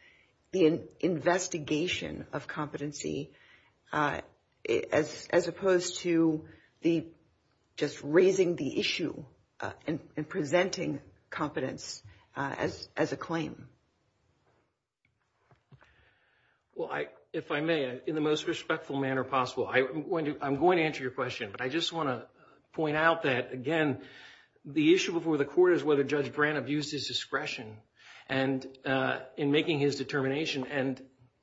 investigation of competency, as opposed to just raising the issue and presenting competence as a claim? Well, if I may, in the most respectful manner possible, I'm going to answer your question. I just want to point out that, again, the issue with the court is whether Judge Grant abused his discretion, and in making his determination. And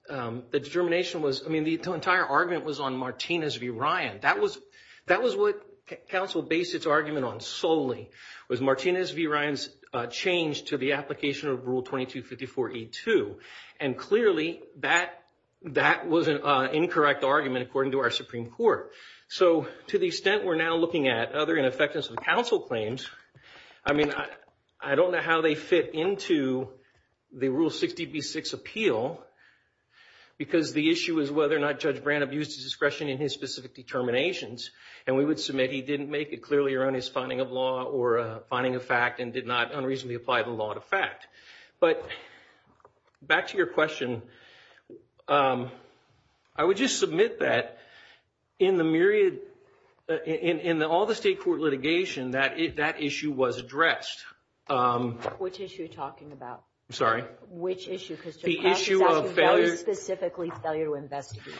the determination was, I mean, the entire argument was on Martinez v. Ryan. That was what counsel based its argument on solely, was Martinez v. Ryan's change to the application of Rule 2254E2. And clearly that was an incorrect argument, according to our Supreme Court. So to the extent we're now looking at other ineffective counsel claims, I mean, I don't know how they fit into the Rule 60B6 appeal, because the issue is whether or not Judge Grant abused his discretion in his specific determinations. And we would submit he didn't make it clearly around his finding of law or finding of fact and did not unreasonably apply the law to fact. But back to your question, I would just submit that in the myriad, in all the state court litigation, that issue was addressed. Which issue are you talking about? I'm sorry? Which issue? The issue of failure. Very specifically failure to investigate.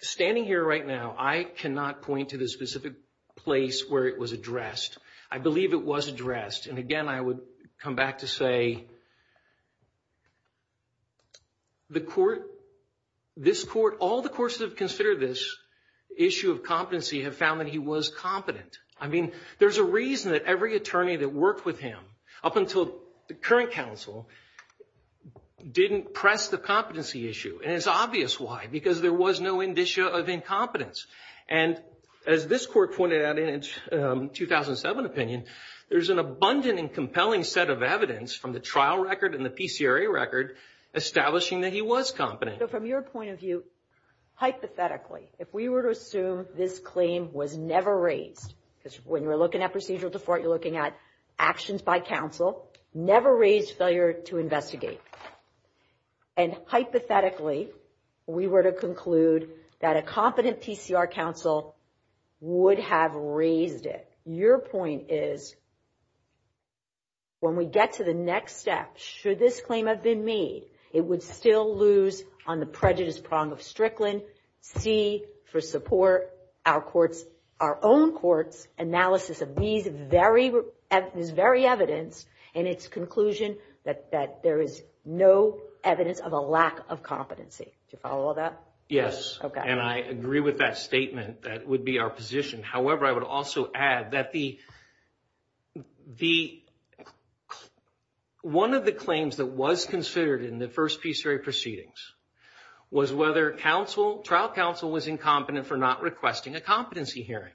Standing here right now, I cannot point to the specific place where it was addressed. I believe it was addressed. And, again, I would come back to say the court, this court, all the courts that have considered this issue of competency have found that he was competent. I mean, there's a reason that every attorney that worked with him up until the current counsel didn't press the competency issue. And it's obvious why, because there was no indicia of incompetence. And as this court pointed out in its 2007 opinion, there's an abundant and compelling set of evidence from the trial record and the PCRA record establishing that he was competent. So, from your point of view, hypothetically, if we were to assume this claim was never raised, because when you're looking at procedural default, you're looking at actions by counsel, never raised failure to investigate. And, hypothetically, we were to conclude that a competent TCR counsel would have raised it. Your point is when we get to the next step, should this claim have been made, it would still lose on the prejudice prong of Strickland, C, for support, our own court's analysis of these very evidence, and its conclusion that there is no evidence of a lack of competency. Do you follow all that? Yes. And I agree with that statement. That would be our position. However, I would also add that one of the claims that was considered in the first PCRA proceedings was whether trial counsel was incompetent for not requesting a competency hearing.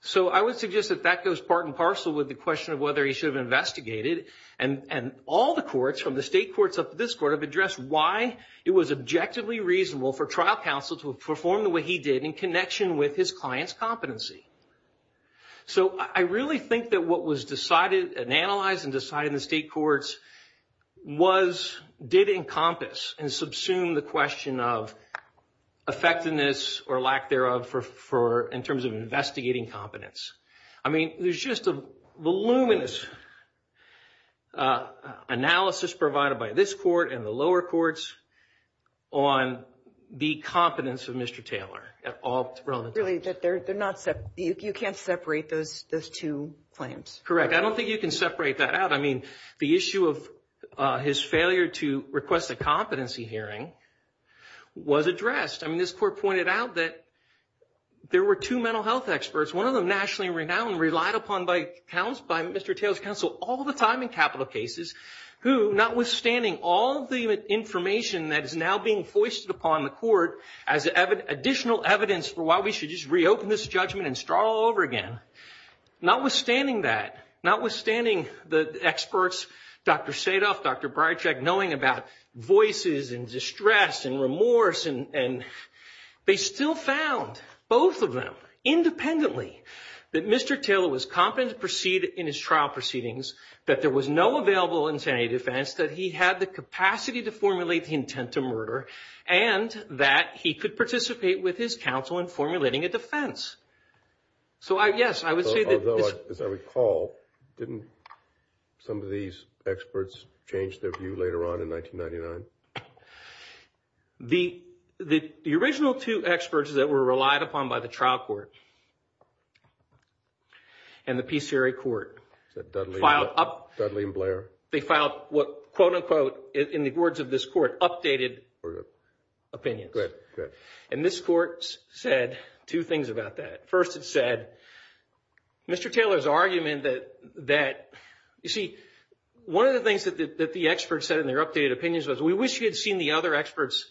So I would suggest that that goes part and parcel with the question of whether he should have investigated. And all the courts, from the state courts up to this court, have addressed why it was objectively reasonable for trial counsel to perform the way he did in connection with his client's competency. So I really think that what was decided and analyzed and decided in the state courts did encompass and subsume the question of effectiveness or lack thereof in terms of investigating competence. I mean, there's just a voluminous analysis provided by this court and the lower courts on the competence of Mr. Taylor at all. Really, you can't separate those two claims. Correct. I don't think you can separate that out. I mean, the issue of his failure to request a competency hearing was addressed. I mean, this court pointed out that there were two mental health experts, one of them nationally renowned and relied upon by Mr. Taylor's counsel all the time in capital cases who, notwithstanding all the information that is now being foisted upon the court as additional evidence for why we should just reopen this judgment and start all over again, notwithstanding that, notwithstanding the experts, Dr. Sadoff, Dr. Breitschek, knowing about voices and distress and remorse, and they still found both of them independently that Mr. Taylor was competent to proceed in his trial proceedings, that there was no available insanity defense, that he had the capacity to formulate the intent to murder, and that he could participate with his counsel in formulating a defense. So, yes, I would say that as I recall, didn't some of these experts change their view later on in 1999? The original two experts that were relied upon by the trial court, and the PCRA court, they filed, quote, unquote, in the words of this court, updated opinion. And this court said two things about that. First, it said, Mr. Taylor's argument that, you see, one of the things that the experts said in their updated opinions was, we wish you had seen the other experts'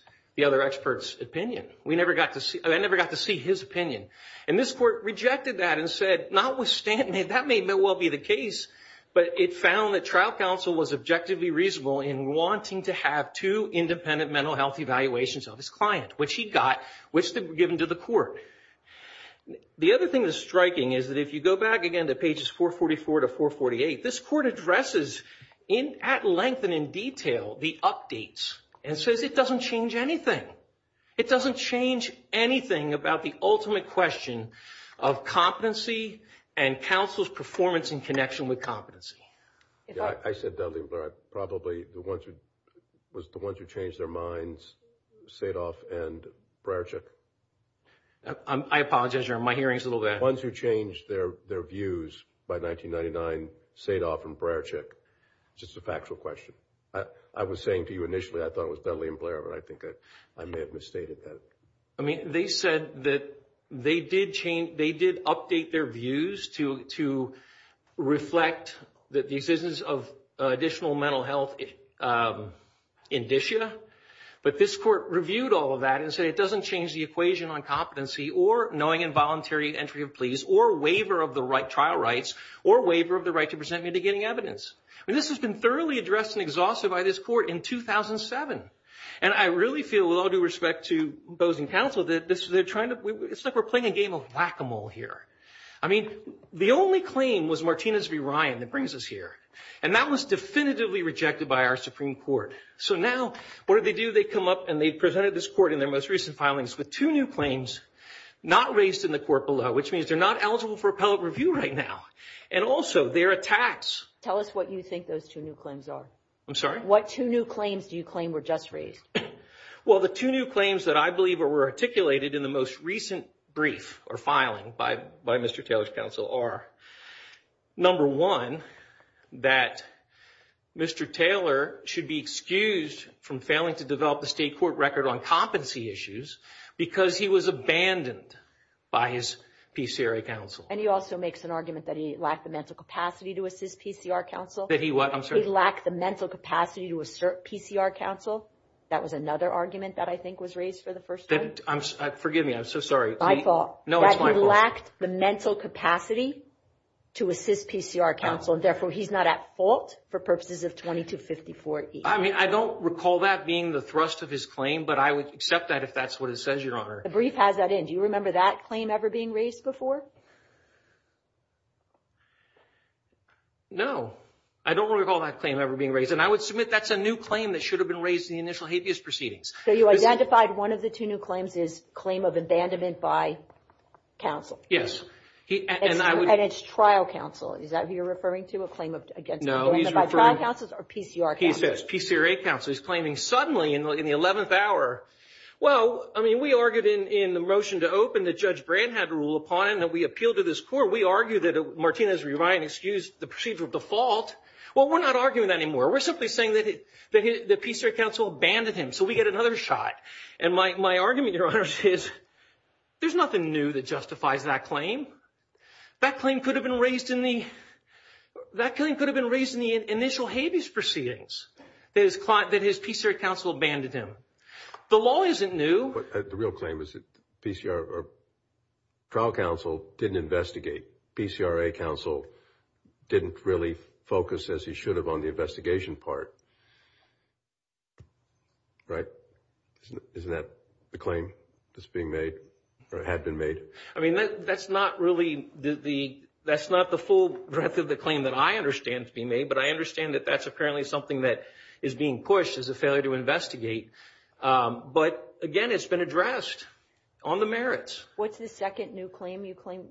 opinion. I never got to see his opinion. And this court rejected that and said, notwithstanding, that may well be the case, but it found that trial counsel was objectively reasonable in wanting to have two independent mental health evaluations of his client, which he got, which were given to the court. The other thing that's striking is that if you go back, again, to pages 444 to 448, this court addresses at length and in detail the updates, and says it doesn't change anything. It doesn't change anything about the ultimate question of competency and counsel's performance in connection with competency. I said Dudley and Blair. Probably the ones who, was the ones who changed their minds, Sadov and Brarczyk? I apologize, your, my hearing's a little bad. The ones who changed their views by 1999, Sadov and Brarczyk. Just a factual question. I was saying to you initially, I thought it was Dudley and Blair, but I think I may have misstated that. I mean, they said that they did change, they did update their views to reflect that the existence of additional mental health indicia, but this court reviewed all of that and said it doesn't change the equation on competency or knowing involuntary entry of pleas, or waiver of the right, trial rights, or waiver of the right to present mitigating evidence. And this has been thoroughly addressed and exhausted by this court in 2007. And I really feel, with all due respect to those in counsel, that this is, they're trying to, it's like we're playing a game of whack-a-mole here. I mean, the only claim was Martinez v. Ryan that brings us here. And that was definitively rejected by our Supreme Court. So now, what did they do? They come up and they presented this court in their most recent filings with two new claims not raised in the court below, which means they're not eligible for appellate review right now. And also, their attacks. Tell us what you think those two new claims are. I'm sorry? What two new claims do you claim were just raised? Well, the two new claims that I believe were articulated in the most recent brief or filing by Mr. Taylor's counsel are, number one, that Mr. Taylor should be excused from failing to develop the state court record on competency issues because he was abandoned by his PCRA counsel. And he also makes an argument that he lacked the mental capacity to assist PCR counsel. That he what? He lacked the mental capacity to assert PCR counsel. That was another argument that I think was raised for the first time. Forgive me. I'm so sorry. My fault. No, it's my fault. That he lacked the mental capacity to assist PCR counsel, and therefore he's not at fault for purposes of 2254-E. I mean, I don't recall that being the thrust of his claim, but I would accept that if that's what it says, Your Honor. The brief has that in. Do you remember that claim ever being raised before? No. I don't recall that claim ever being raised. And I would submit that's a new claim that should have been raised in the initial habeas proceedings. So you identified one of the two new claims is claim of abandonment by counsel. Yes. And it's trial counsel. Is that who you're referring to? A claim of abandonment by trial counsel or PCR counsel? He says PCRA counsel. He's claiming suddenly in the 11th hour, well, I mean, we argued in the motion to open that Judge Brand had ruled upon and that we appealed to this court. Well, we argued that Martinez-Reinitz used the procedural default. Well, we're not arguing that anymore. We're simply saying that the PCR counsel abandoned him, so we get another shot. And my argument, Your Honor, is there's nothing new that justifies that claim. That claim could have been raised in the initial habeas proceedings, that his PCR counsel abandoned him. The law isn't new. The real claim is that trial counsel didn't investigate. PCRA counsel didn't really focus as he should have on the investigation part. Right? Isn't that the claim that's being made or had been made? I mean, that's not really the full breadth of the claim that I understand to be made, but I understand that that's apparently something that is being pushed as a failure to investigate. But, again, it's been addressed on the merits. What's the second new claim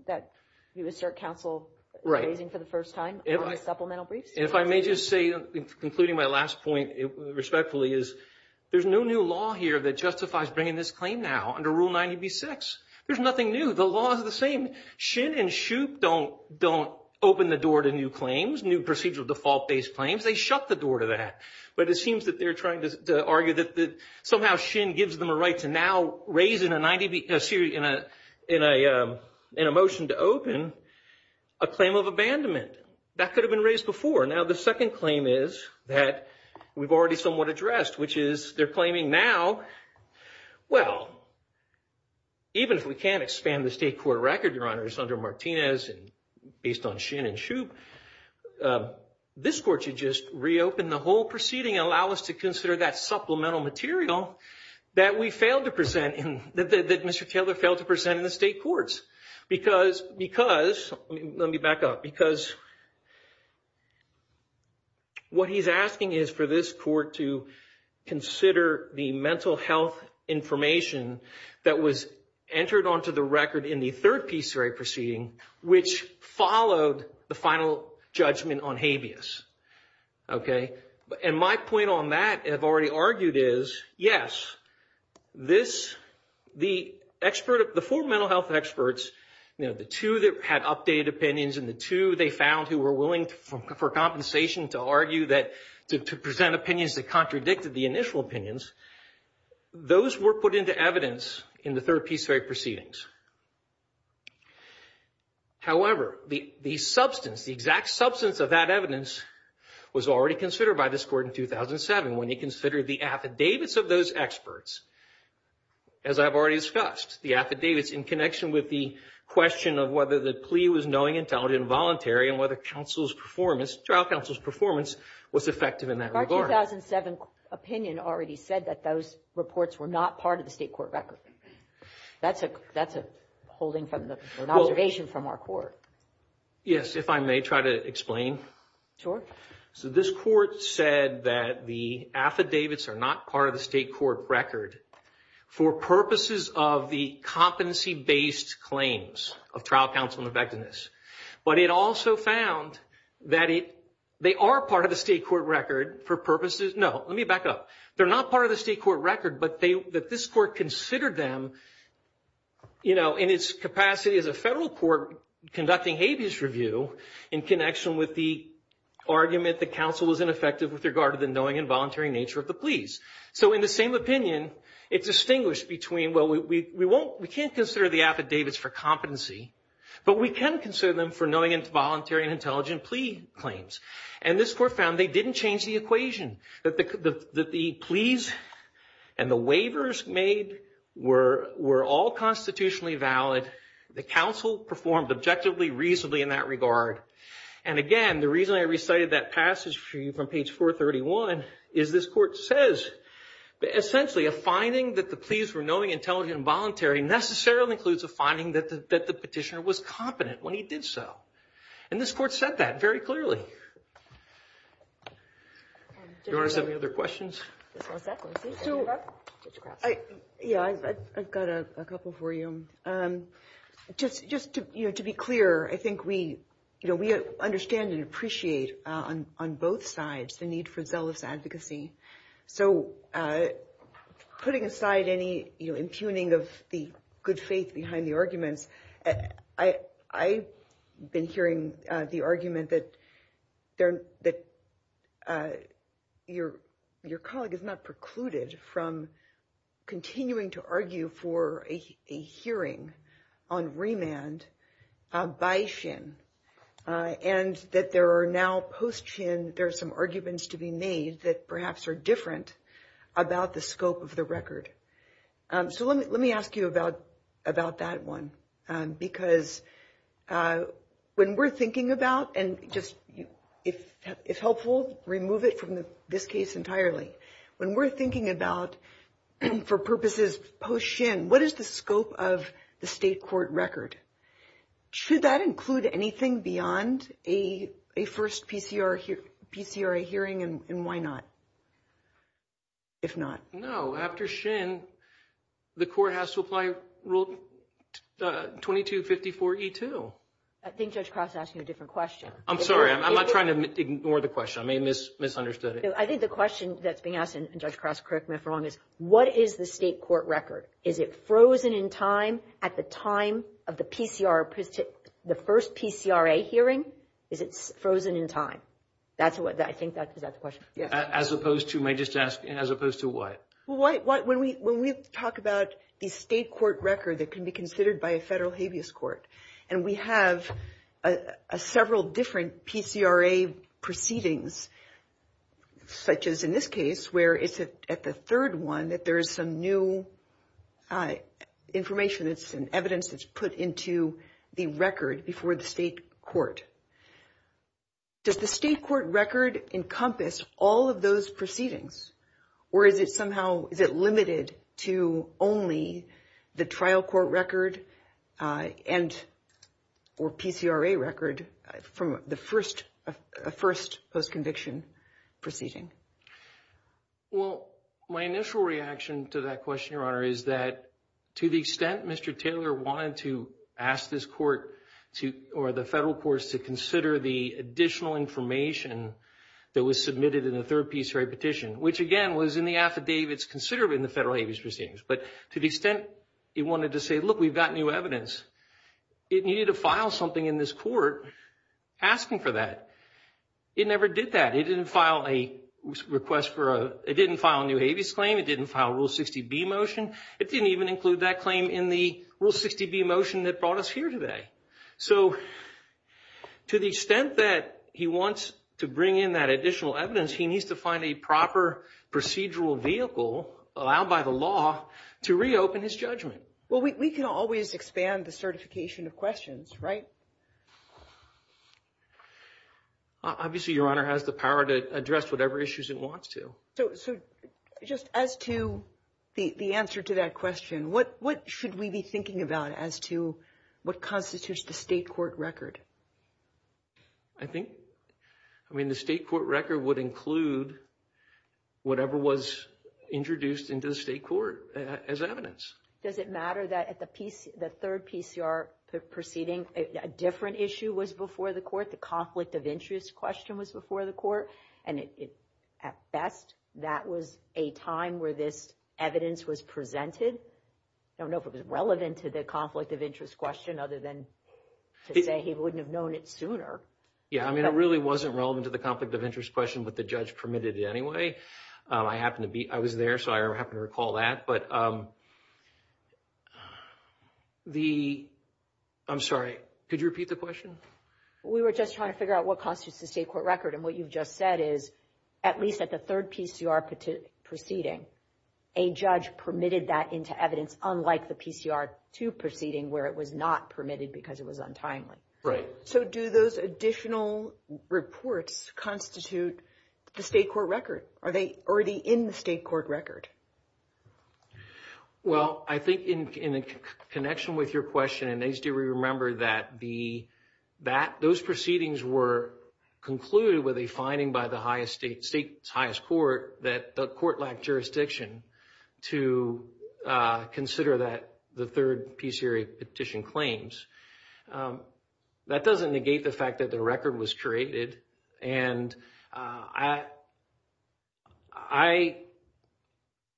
that you assert counsel is raising for the first time on the supplemental brief? If I may just say, concluding my last point respectfully, is there's no new law here that justifies bringing this claim now under Rule 90B6. There's nothing new. The law is the same. Shin and Shook don't open the door to new claims, new procedural default-based claims. They shut the door to that. But it seems that they're trying to argue that somehow Shin gives them a right to now raise in a motion to open a claim of abandonment. That could have been raised before. Now, the second claim is that we've already somewhat addressed, which is they're claiming now, well, even if we can't expand the state court record, Your Honors, under Martinez based on Shin and Shook, this court should just reopen the whole proceeding and allow us to consider that supplemental material that we failed to present, that Mr. Keller failed to present in the state courts. Because, let me back up, because what he's asking is for this court to consider the mental health information that was entered onto the record in the third PCRA proceeding, which followed the final judgment on habeas. Okay? And my point on that, I've already argued, is yes, the four mental health experts, the two that had updated opinions and the two they found who were willing for compensation to argue that to present opinions that contradicted the initial opinions, those were put into evidence in the third PCRA proceedings. However, the substance, the exact substance of that evidence was already considered by this court in 2007 when he considered the affidavits of those experts. As I've already discussed, the affidavits in connection with the question of whether the plea was knowing, intelligent, and voluntary, and whether counsel's performance, trial counsel's performance was effective in that regard. Our 2007 opinion already said that those reports were not part of the state court record. That's a holding from the observation from our court. Yes, if I may try to explain. So this court said that the affidavits are not part of the state court record for purposes of the competency-based claims of trial counsel effectiveness. But it also found that they are part of the state court record for purposes, no, let me back up. They're not part of the state court record, but that this court considered them in its capacity as a federal court conducting habeas review in connection with the argument that counsel was ineffective with regard to the knowing and voluntary nature of the pleas. So in the same opinion, it distinguished between, well, we can't consider the affidavits for competency, but we can consider them for knowing and voluntary and intelligent plea claims. And this court found they didn't change the equation, that the pleas and the waivers made were all constitutionally valid. The counsel performed objectively reasonably in that regard. And again, the reason I recited that passage for you from page 431 is this court says essentially a finding that the pleas were knowing, intelligent, and voluntary necessarily includes a finding that the petitioner was competent when he did so. And this court said that very clearly. Do we have any other questions? Yeah, I've got a couple for you. Just to be clear, I think we understand and appreciate on both sides the need for zealous advocacy. So putting aside any impugning of the good faith behind the argument, I've been hearing the argument that your colleague is not precluded from continuing to argue for a hearing on remand by SHIN, and that there are now post-SHIN, there are some arguments to be made that perhaps are different about the scope of the record. So let me ask you about that one, because when we're thinking about, and just if helpful, remove it from this case entirely. When we're thinking about, for purposes post-SHIN, what is the scope of the state court record? Should that include anything beyond a first PCR hearing, and why not? If not. No, after SHIN, the court has to apply Rule 2254E2. I think Judge Cross is asking a different question. I'm sorry. I'm not trying to ignore the question. I may have misunderstood it. I think the question that's being asked, and Judge Cross correct me if I'm wrong, is what is the state court record? Is it frozen in time at the time of the first PCRA hearing? Is it frozen in time? I think that's the question. As opposed to what? When we talk about the state court record that can be considered by a federal habeas court, and we have several different PCRA proceedings, such as in this case where it's at the third one that there is some new information and evidence that's put into the record before the state court. Does the state court record encompass all of those proceedings, or is it somehow limited to only the trial court record or PCRA record from the first post-conviction proceeding? Well, my initial reaction to that question, Your Honor, is that to the extent Mr. Taylor wanted to ask this court or the federal courts to consider the additional information that was submitted in the third PCRA petition, which, again, was in the affidavits considered in the federal habeas proceedings, but to the extent he wanted to say, look, we've got new evidence, it needed to file something in this court asking for that. It never did that. It didn't file a request for a new habeas claim. It didn't file a Rule 60B motion. It didn't even include that claim in the Rule 60B motion that brought us here today. So to the extent that he wants to bring in that additional evidence, he needs to find a proper procedural vehicle, allowed by the law, to reopen his judgment. Well, we can always expand the certification of questions, right? Obviously, Your Honor, has the power to address whatever issues it wants to. So just as to the answer to that question, what should we be thinking about as to what constitutes the state court record? I think, I mean, the state court record would include whatever was introduced into the state court as evidence. Does it matter that at the third PCR proceeding, a different issue was before the court? The conflict of interest question was before the court, and at best, that was a time where this evidence was presented. I don't know if it was relevant to the conflict of interest question, other than to say he wouldn't have known it sooner. Yeah, I mean, it really wasn't relevant to the conflict of interest question, but the judge permitted it anyway. I happen to be, I was there, so I happen to recall that. But the, I'm sorry, could you repeat the question? We were just trying to figure out what constitutes the state court record. And what you've just said is, at least at the third PCR proceeding, a judge permitted that into evidence, unlike the PCR two proceeding where it was not permitted because it was untimely. Right. So do those additional reports constitute the state court record? Are they already in the state court record? Well, I think in connection with your question, and H.D., we remember that those proceedings were concluded with a finding by the highest state, state's highest court, that the court lacked jurisdiction to consider that, the third PCR petition claims. That doesn't negate the fact that the record was traded. And I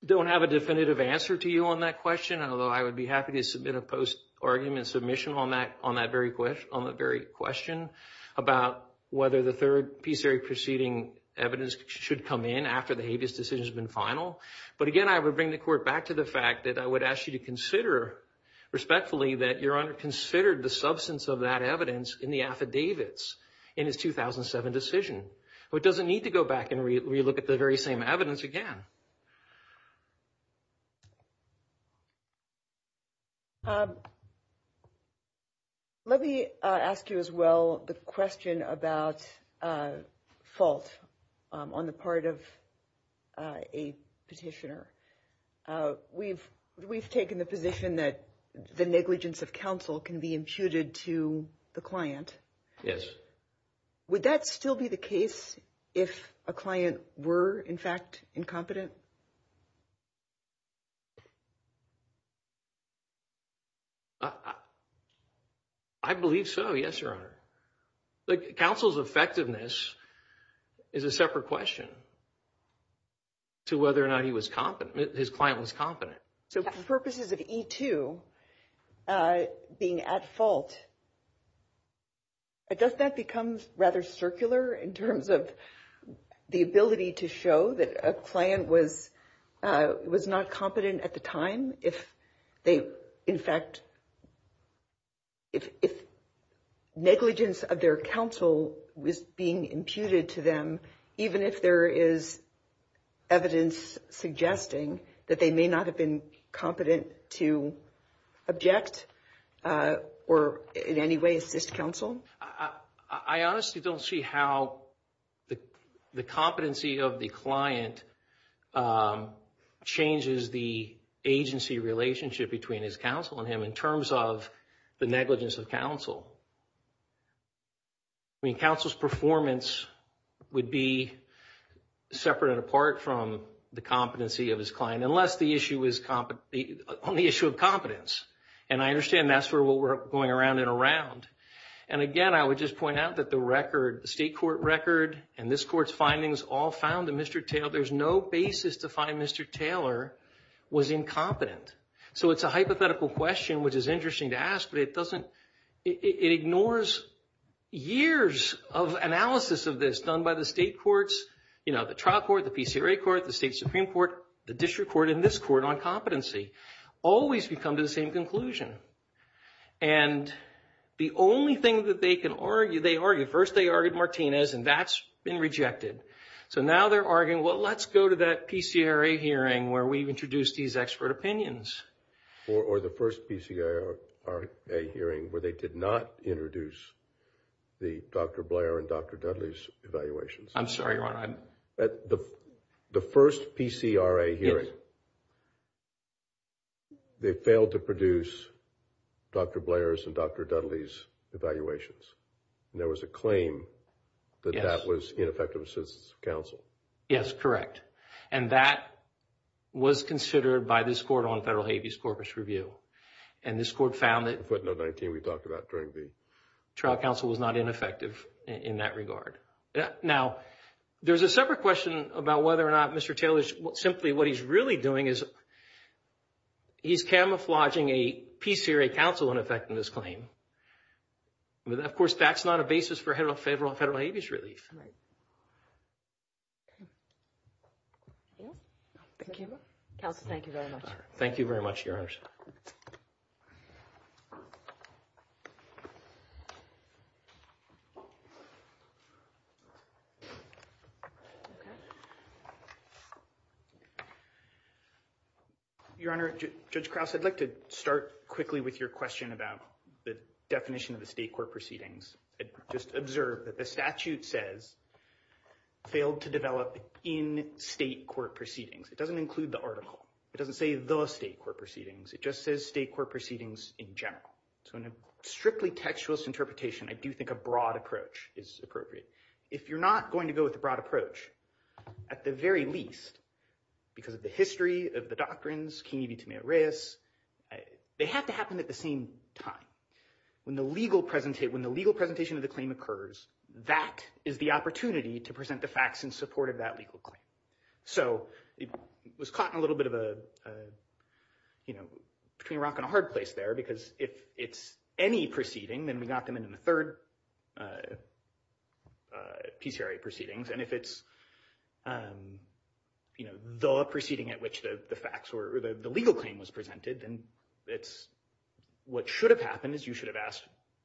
don't have a definitive answer to you on that question, although I would be happy to submit a post argument submission on that, on that very question, on the very question about whether the third PCR proceeding evidence should come in after the habeas decision has been final. But again, I would bring the court back to the fact that I would ask you to consider respectfully that your honor considered the substance of that evidence in the affidavits in his 2007 decision. It doesn't need to go back and relook at the very same evidence again. Let me ask you as well, the question about false on the part of a petitioner. We've taken the position that the negligence of counsel can be intuited to the client. Yes. Would that still be the case if a client were in fact incompetent? I believe so. Yes, your honor. The counsel's effectiveness is a separate question to whether or not he was competent. His client was competent. So for purposes of E2 being at fault, does that become rather circular in terms of the ability to show that a client was, was not competent at the time if they, in fact, if negligence of their counsel was being imputed to them, even if there is evidence suggesting that they may not have been competent to object or in any way, is this counsel? I honestly don't see how the competency of the client changes the agency relationship between his counsel and him in terms of the negligence of counsel. I mean, counsel's performance would be separate and apart from the competency of his client, unless the issue is on the issue of competence. And I understand that's where we're going around and around. And again, I would just point out that the record, the state court record and this court's findings all found that Mr. Taylor, there's no basis to find Mr. Taylor was incompetent. So it's a hypothetical question, which is interesting to ask, but it doesn't, it ignores years of analysis of this done by the state courts, you know, the trial court, the PCRA court, the state Supreme court, the district court, and this court on competency always become the same conclusion. And the only thing that they can argue, they argue first, they argued Martinez and that's been rejected. So now they're arguing, well, let's go to that PCRA hearing where we've introduced these expert opinions. Or the first PCRA hearing where they did not introduce the Dr. Blair and Dr. Dudley's evaluations. I'm sorry, the first PCRA hearing, they failed to produce Dr. Blair's and Dr. Dudley's evaluations. And there was a claim that that was ineffective assistance council. Yes, correct. And that was considered by this court on federal Haiti's corpus review. And this court found that we talked about during the trial council was not ineffective in that regard. Yeah. Now there's a separate question about whether or not Mr. Taylor's simply, what he's really doing is he's camouflaging a PCRA council. And in fact, in this claim, of course, that's not a basis for federal, federal, federal Haiti's relief. Thank you very much. Thank you very much. Yours. Okay. Your honor, just cross. I'd like to start quickly with your question about the definition of the state court proceedings. I just observed that the statute says. Failed to develop in state court proceedings. It doesn't include the article. It doesn't say the state court proceedings. It just says state court proceedings in general. So in a strictly textualist interpretation, I do think a broad approach is appropriate. If you're not going to go with the broad approach. At the very least. Because of the history of the doctrines, can you be to me at risk? They have to happen at the same time. When the legal presentation, when the legal presentation of the claim occurs, that is the opportunity to present the facts in support of that legal. So it was caught in a little bit of a. You know, between a rock and a hard place there, because if it's any proceeding, Then we got them into the third. PCRA proceedings. And if it's. You know, the proceeding at which the facts or the legal claim was presented. And it's. What should have happened is you should have asked.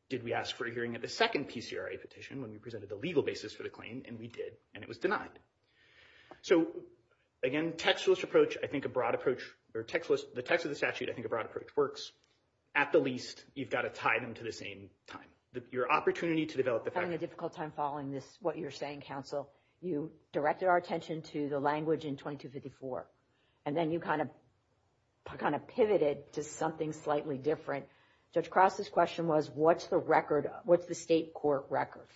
Did we ask for a hearing at the second PCRA petition? When we presented the legal basis for the claim and we did, and it was denied. So again, textualist approach, I think a broad approach or text was the text of the statute. I think a broad approach works. At the least. You've got to tie them to the same time. Your opportunity to develop. Having a difficult time following this, what you're saying, counsel, you directed our attention to the language in 2254. And then you kind of. I kind of pivoted to something slightly different. Just cross. This question was, what's the record? What's the state court record?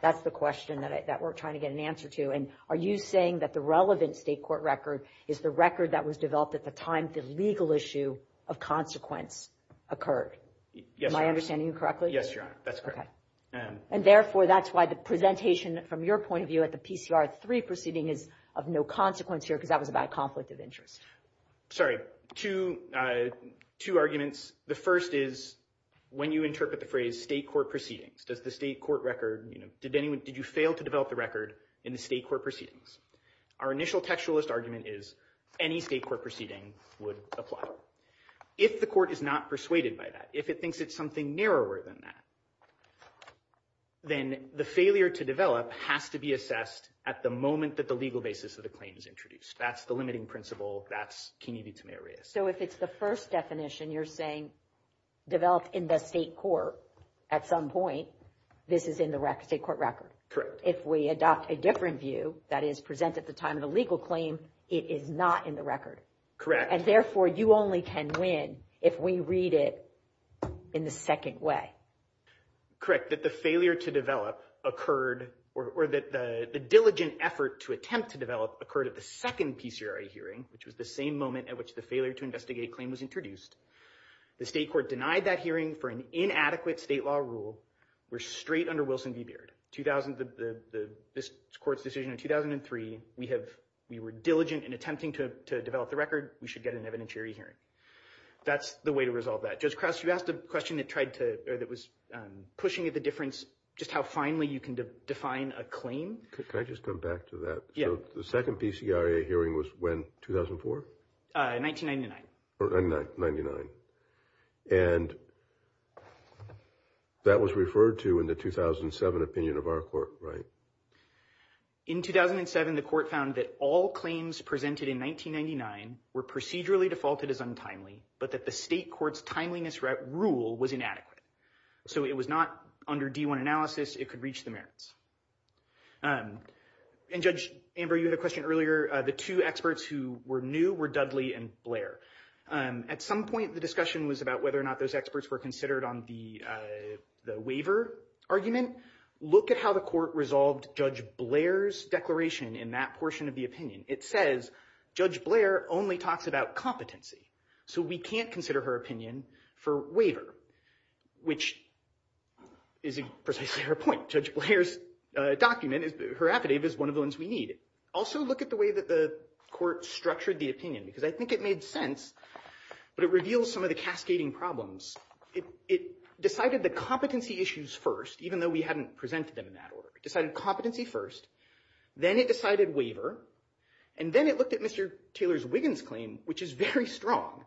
That's the question that we're trying to get an answer to. And are you saying that the relevant state court record is the record that was developed at the time? That this legal issue of consequence. Occurred. Yes. I understand you correctly. Yes. Okay. And therefore, that's why the presentation from your point of view at the PCR 3 proceeding is of no consequence here. Cause that was about conflict of interest. Sorry. To two arguments. The first is. When you interpret the phrase state court proceedings, does the state court record. Did anyone, did you fail to develop the record in the state court proceedings? Our initial textualist argument is. Any state court proceeding would apply. If the court is not persuaded by that. If it thinks it's something narrower than that. Then the failure to develop has to be assessed. At the moment that the legal basis of the claims introduced. That's the limiting principle. That's community. So if it's the first definition, you're saying. Develop in the state court. At some point. This is in the record state court record. Correct. If we adopt a different view that is presented at the time of the legal claim. It is not in the record. Correct. And therefore you only can win. If we read it. In the second way. Correct. That the failure to develop occurred. Or that the diligent effort to attempt to develop occurred at the second PCRI hearing, which was the same moment at which the failure to investigate claims introduced. The state court denied that hearing for an inadequate state law rule. We're straight under Wilson. We were diligent in attempting to develop the record. We should get an evidentiary hearing. That's the way to resolve that. Just cross. You asked a question that tried to, or that was pushing at the difference. Just how finally you can define a claim. I just come back to that. Yeah. The second PCRA hearing was when 2004. 1999. Or 99. And. That was referred to in the 2007 opinion of our court. Right. In 2007, the court found that all claims presented in 1999 were procedurally defaulted as untimely, but that the state court's timeliness rule was inadequate. So it was not under D1 analysis. It could reach the merits. And judge Amber, you had a question earlier. The two experts who were new were Dudley and Blair. At some point, the discussion was about whether or not those experts were considered on the. The waiver argument. Look at how the court resolved. Judge Blair's declaration in that portion of the opinion. It says. Judge Blair only talks about competency. So we can't consider her opinion for waiver. Which. Is precisely her point. Judge Blair's document. Her affidavit is one of those we need. Also look at the way that the court structured the opinion, because I think it made sense. But it reveals some of the cascading problems. It decided the competency issues first, even though we hadn't presented them. Decided competency first. Then it decided waiver. And then it looked at Mr. Taylor's Wiggins claim, which is very strong.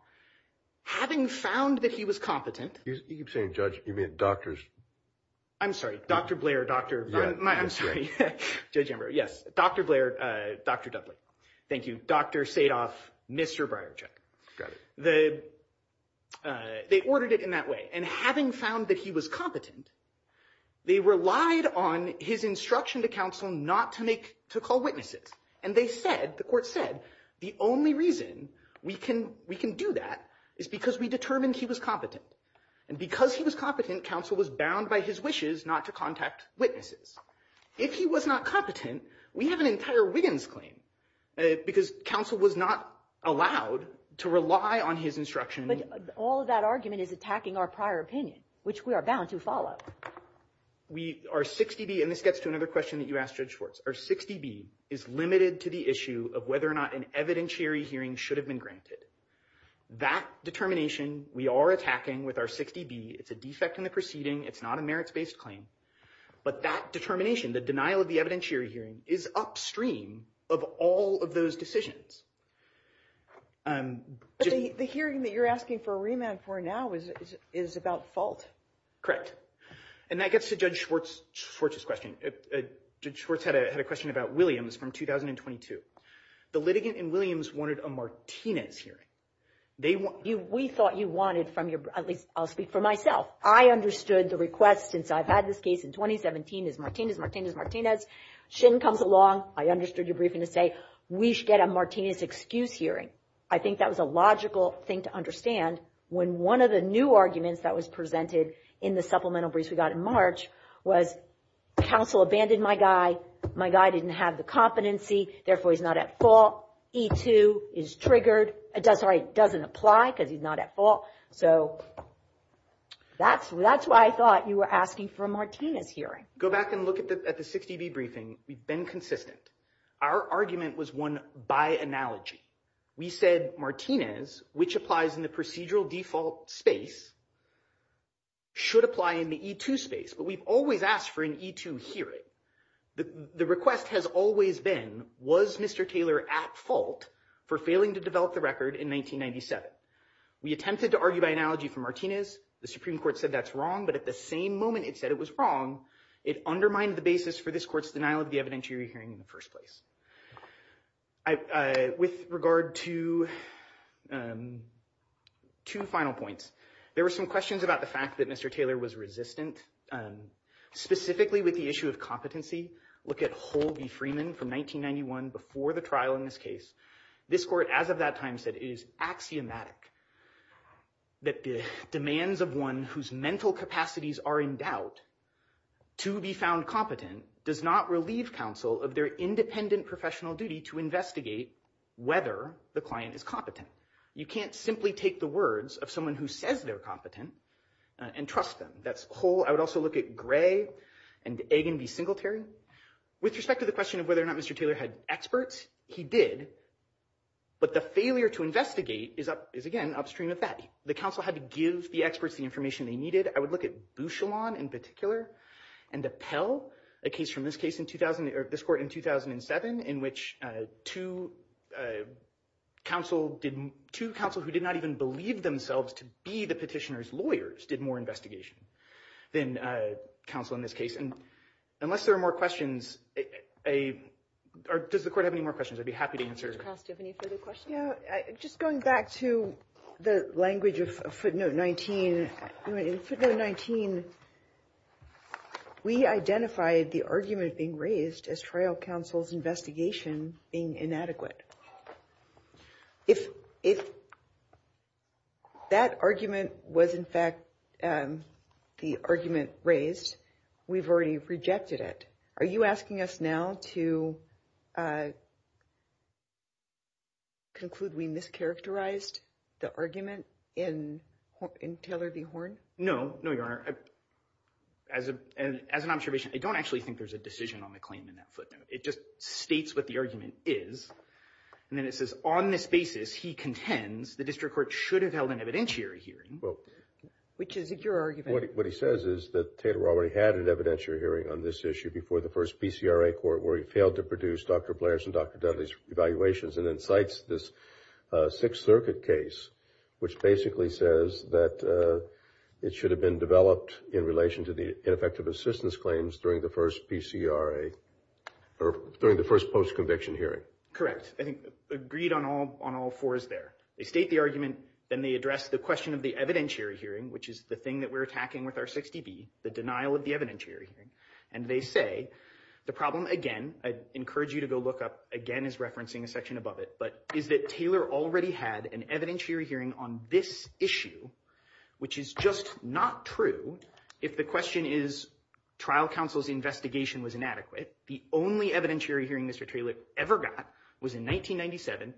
Having found that he was competent. You keep saying judge doctors. I'm sorry. Dr. Blair. Yes. Dr. Blair. Dudley. Thank you. Dr. Stay off. Mr. Brian. The. They ordered it in that way. And having found that he was competent. They relied on his instruction to counsel, not to make to call witnesses. And they said, the court said, the only reason we can, we can do that. Is because we determined he was competent. And because he was competent, counsel was bound by his wishes, not to contact witnesses. If he was not competent, we have an entire Wiggins claim. Because counsel was not allowed to rely on his instruction. All of that argument is attacking our prior opinion, which we are bound to follow up. We are 60 B, and this gets to another question that you asked. Our 60 B is limited to the issue of whether or not an evidentiary hearing should have been granted. That determination, we are attacking with our 60 B. It's a defect in the proceeding. It's not a merits-based claim, but that determination, the denial of the evidentiary hearing is upstream of all of those decisions. The hearing that you're asking for a remand for now is, is about fault. Correct. And that gets to judge Schwartz, Schwartz's question. Judge Schwartz had a question about Williams from 2022. The litigant in Williams wanted a Martinez hearing. We thought you wanted, at least I'll speak for myself, I understood the request since I've had this case in 2017 is Martinez, Shin comes along, I understood your briefing to say, we should get a Martinez excuse hearing. I think that was a logical thing to understand when one of the new arguments that was presented in the supplemental brief we got in March was, counsel abandoned my guy, my guy didn't have the competency, therefore he's not at fault. E2 is triggered. It doesn't apply because he's not at fault. So that's why I thought you were asking for a Martinez hearing. Go back and look at the 60B briefing. We've been consistent. Our argument was won by analogy. We said Martinez, which applies in the procedural default space, should apply in the E2 space, but we've always asked for an E2 hearing. The request has always been, was Mr. Taylor at fault for failing to develop the record in 1997? We attempted to argue by analogy for Martinez. The Supreme Court said that's wrong, but at the same moment it said it was wrong, it undermined the basis for this court's denial of the evidentiary hearing in the first place. With regard to two final points, there were some questions about the fact that Mr. Taylor was resistant, specifically with the issue of competency. Look at Hull v. Freeman from 1991 before the trial in this case. This court, as of that time, said it is axiomatic that the demands of one whose mental capacities are in doubt to be found competent does not relieve counsel of their independent professional duty to investigate whether the client is competent. You can't simply take the words of someone who says they're competent and trust them. That's Hull. I would also look at Gray and Egan v. Singletary. With respect to the question of whether or not Mr. Taylor had experts, he did, but the failure to investigate is, again, upstream of that. The counsel had to give the experts the information they needed. I would look at Bouchillon in particular and Appel, a case from this court in 2007 in which two counsels who did not even believe themselves to be the petitioner's lawyers did more investigation than counsel in this case. Unless there are more questions, or does the court have any more questions? I'd be happy to answer. Just going back to the language of footnote 19, in footnote 19 we identified the argument being raised as trial counsel's investigation being inadequate. If that argument was in fact the argument raised, we've already rejected it. Are you asking us now to conclude we mischaracterized the argument in Taylor v. Horn? No, Your Honor. As an observation, I don't actually think there's a decision on the claim in that footnote. It just states what the argument is, and then it says on this basis he contends the district court should have held an evidentiary hearing. Which is your argument? What he says is that Taylor already had an evidentiary hearing on this issue before the first BCRA court where he failed to produce Dr. Blair's and Dr. Dudley's evaluations and then cites this Sixth Circuit case which basically says that it should have been developed in relation to the ineffective assistance claims during the first post-conviction hearing. Correct. Agreed on all fours there. They state the argument, then they address the question of the evidentiary hearing, which is the thing that we're attacking with our 60B, the denial of the evidentiary hearing, and they say the problem, again, I encourage you to go look up, again is referencing a section above it, but is that Taylor already had an evidentiary hearing on this issue, which is just not true if the question is trial counsel's investigation was inadequate. The only evidentiary hearing Mr. Taylor ever got was in 1997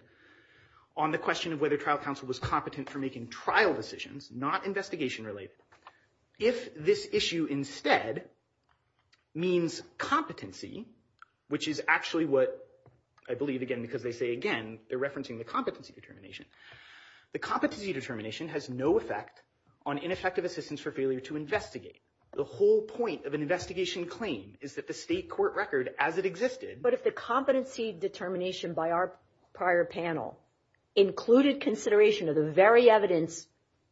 on the question of whether trial counsel was competent for making trial decisions, not investigation-related. If this issue instead means competency, which is actually what I believe, again, because they say, again, they're referencing the competency determination. The competency determination has no effect on ineffective assistance for failure to investigate. The whole point of an investigation claim is that the state court record as it existed. But if the competency determination by our prior panel included consideration of the very evidence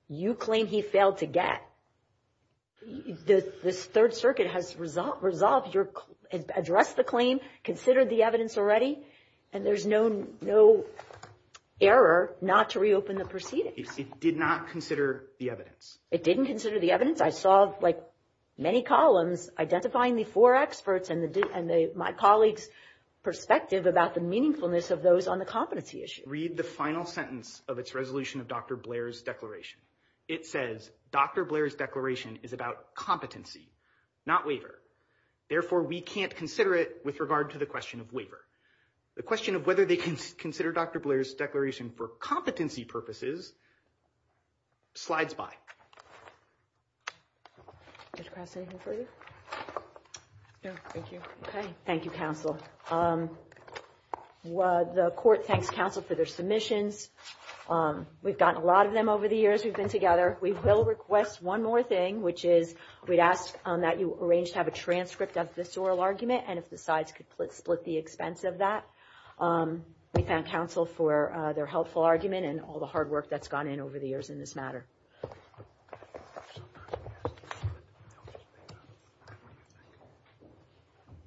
you claim he failed to get, this Third Circuit has resolved your claim, addressed the claim, considered the evidence already, and there's no error not to reopen the proceedings. It did not consider the evidence. It didn't consider the evidence? I saw many columns identifying these four experts and my colleague's perspective about the meaningfulness of those on the competency issue. Read the final sentence of its resolution of Dr. Blair's declaration. It says, Dr. Blair's declaration is about competency, not waiver. Therefore, we can't consider it with regard to the question of waiver. The question of whether they can consider Dr. Blair's declaration for competency purposes slides by. Ms. Cross, anything for you? No, thank you. Thank you, counsel. The court thanks counsel for their submissions. We've gotten a lot of them over the years we've been together. We will request one more thing, which is we'd ask that you arrange to have a transcript of this oral argument and if the sides could split the expense of that. We thank counsel for their helpful argument and all the hard work that's gone in over the years in this matter.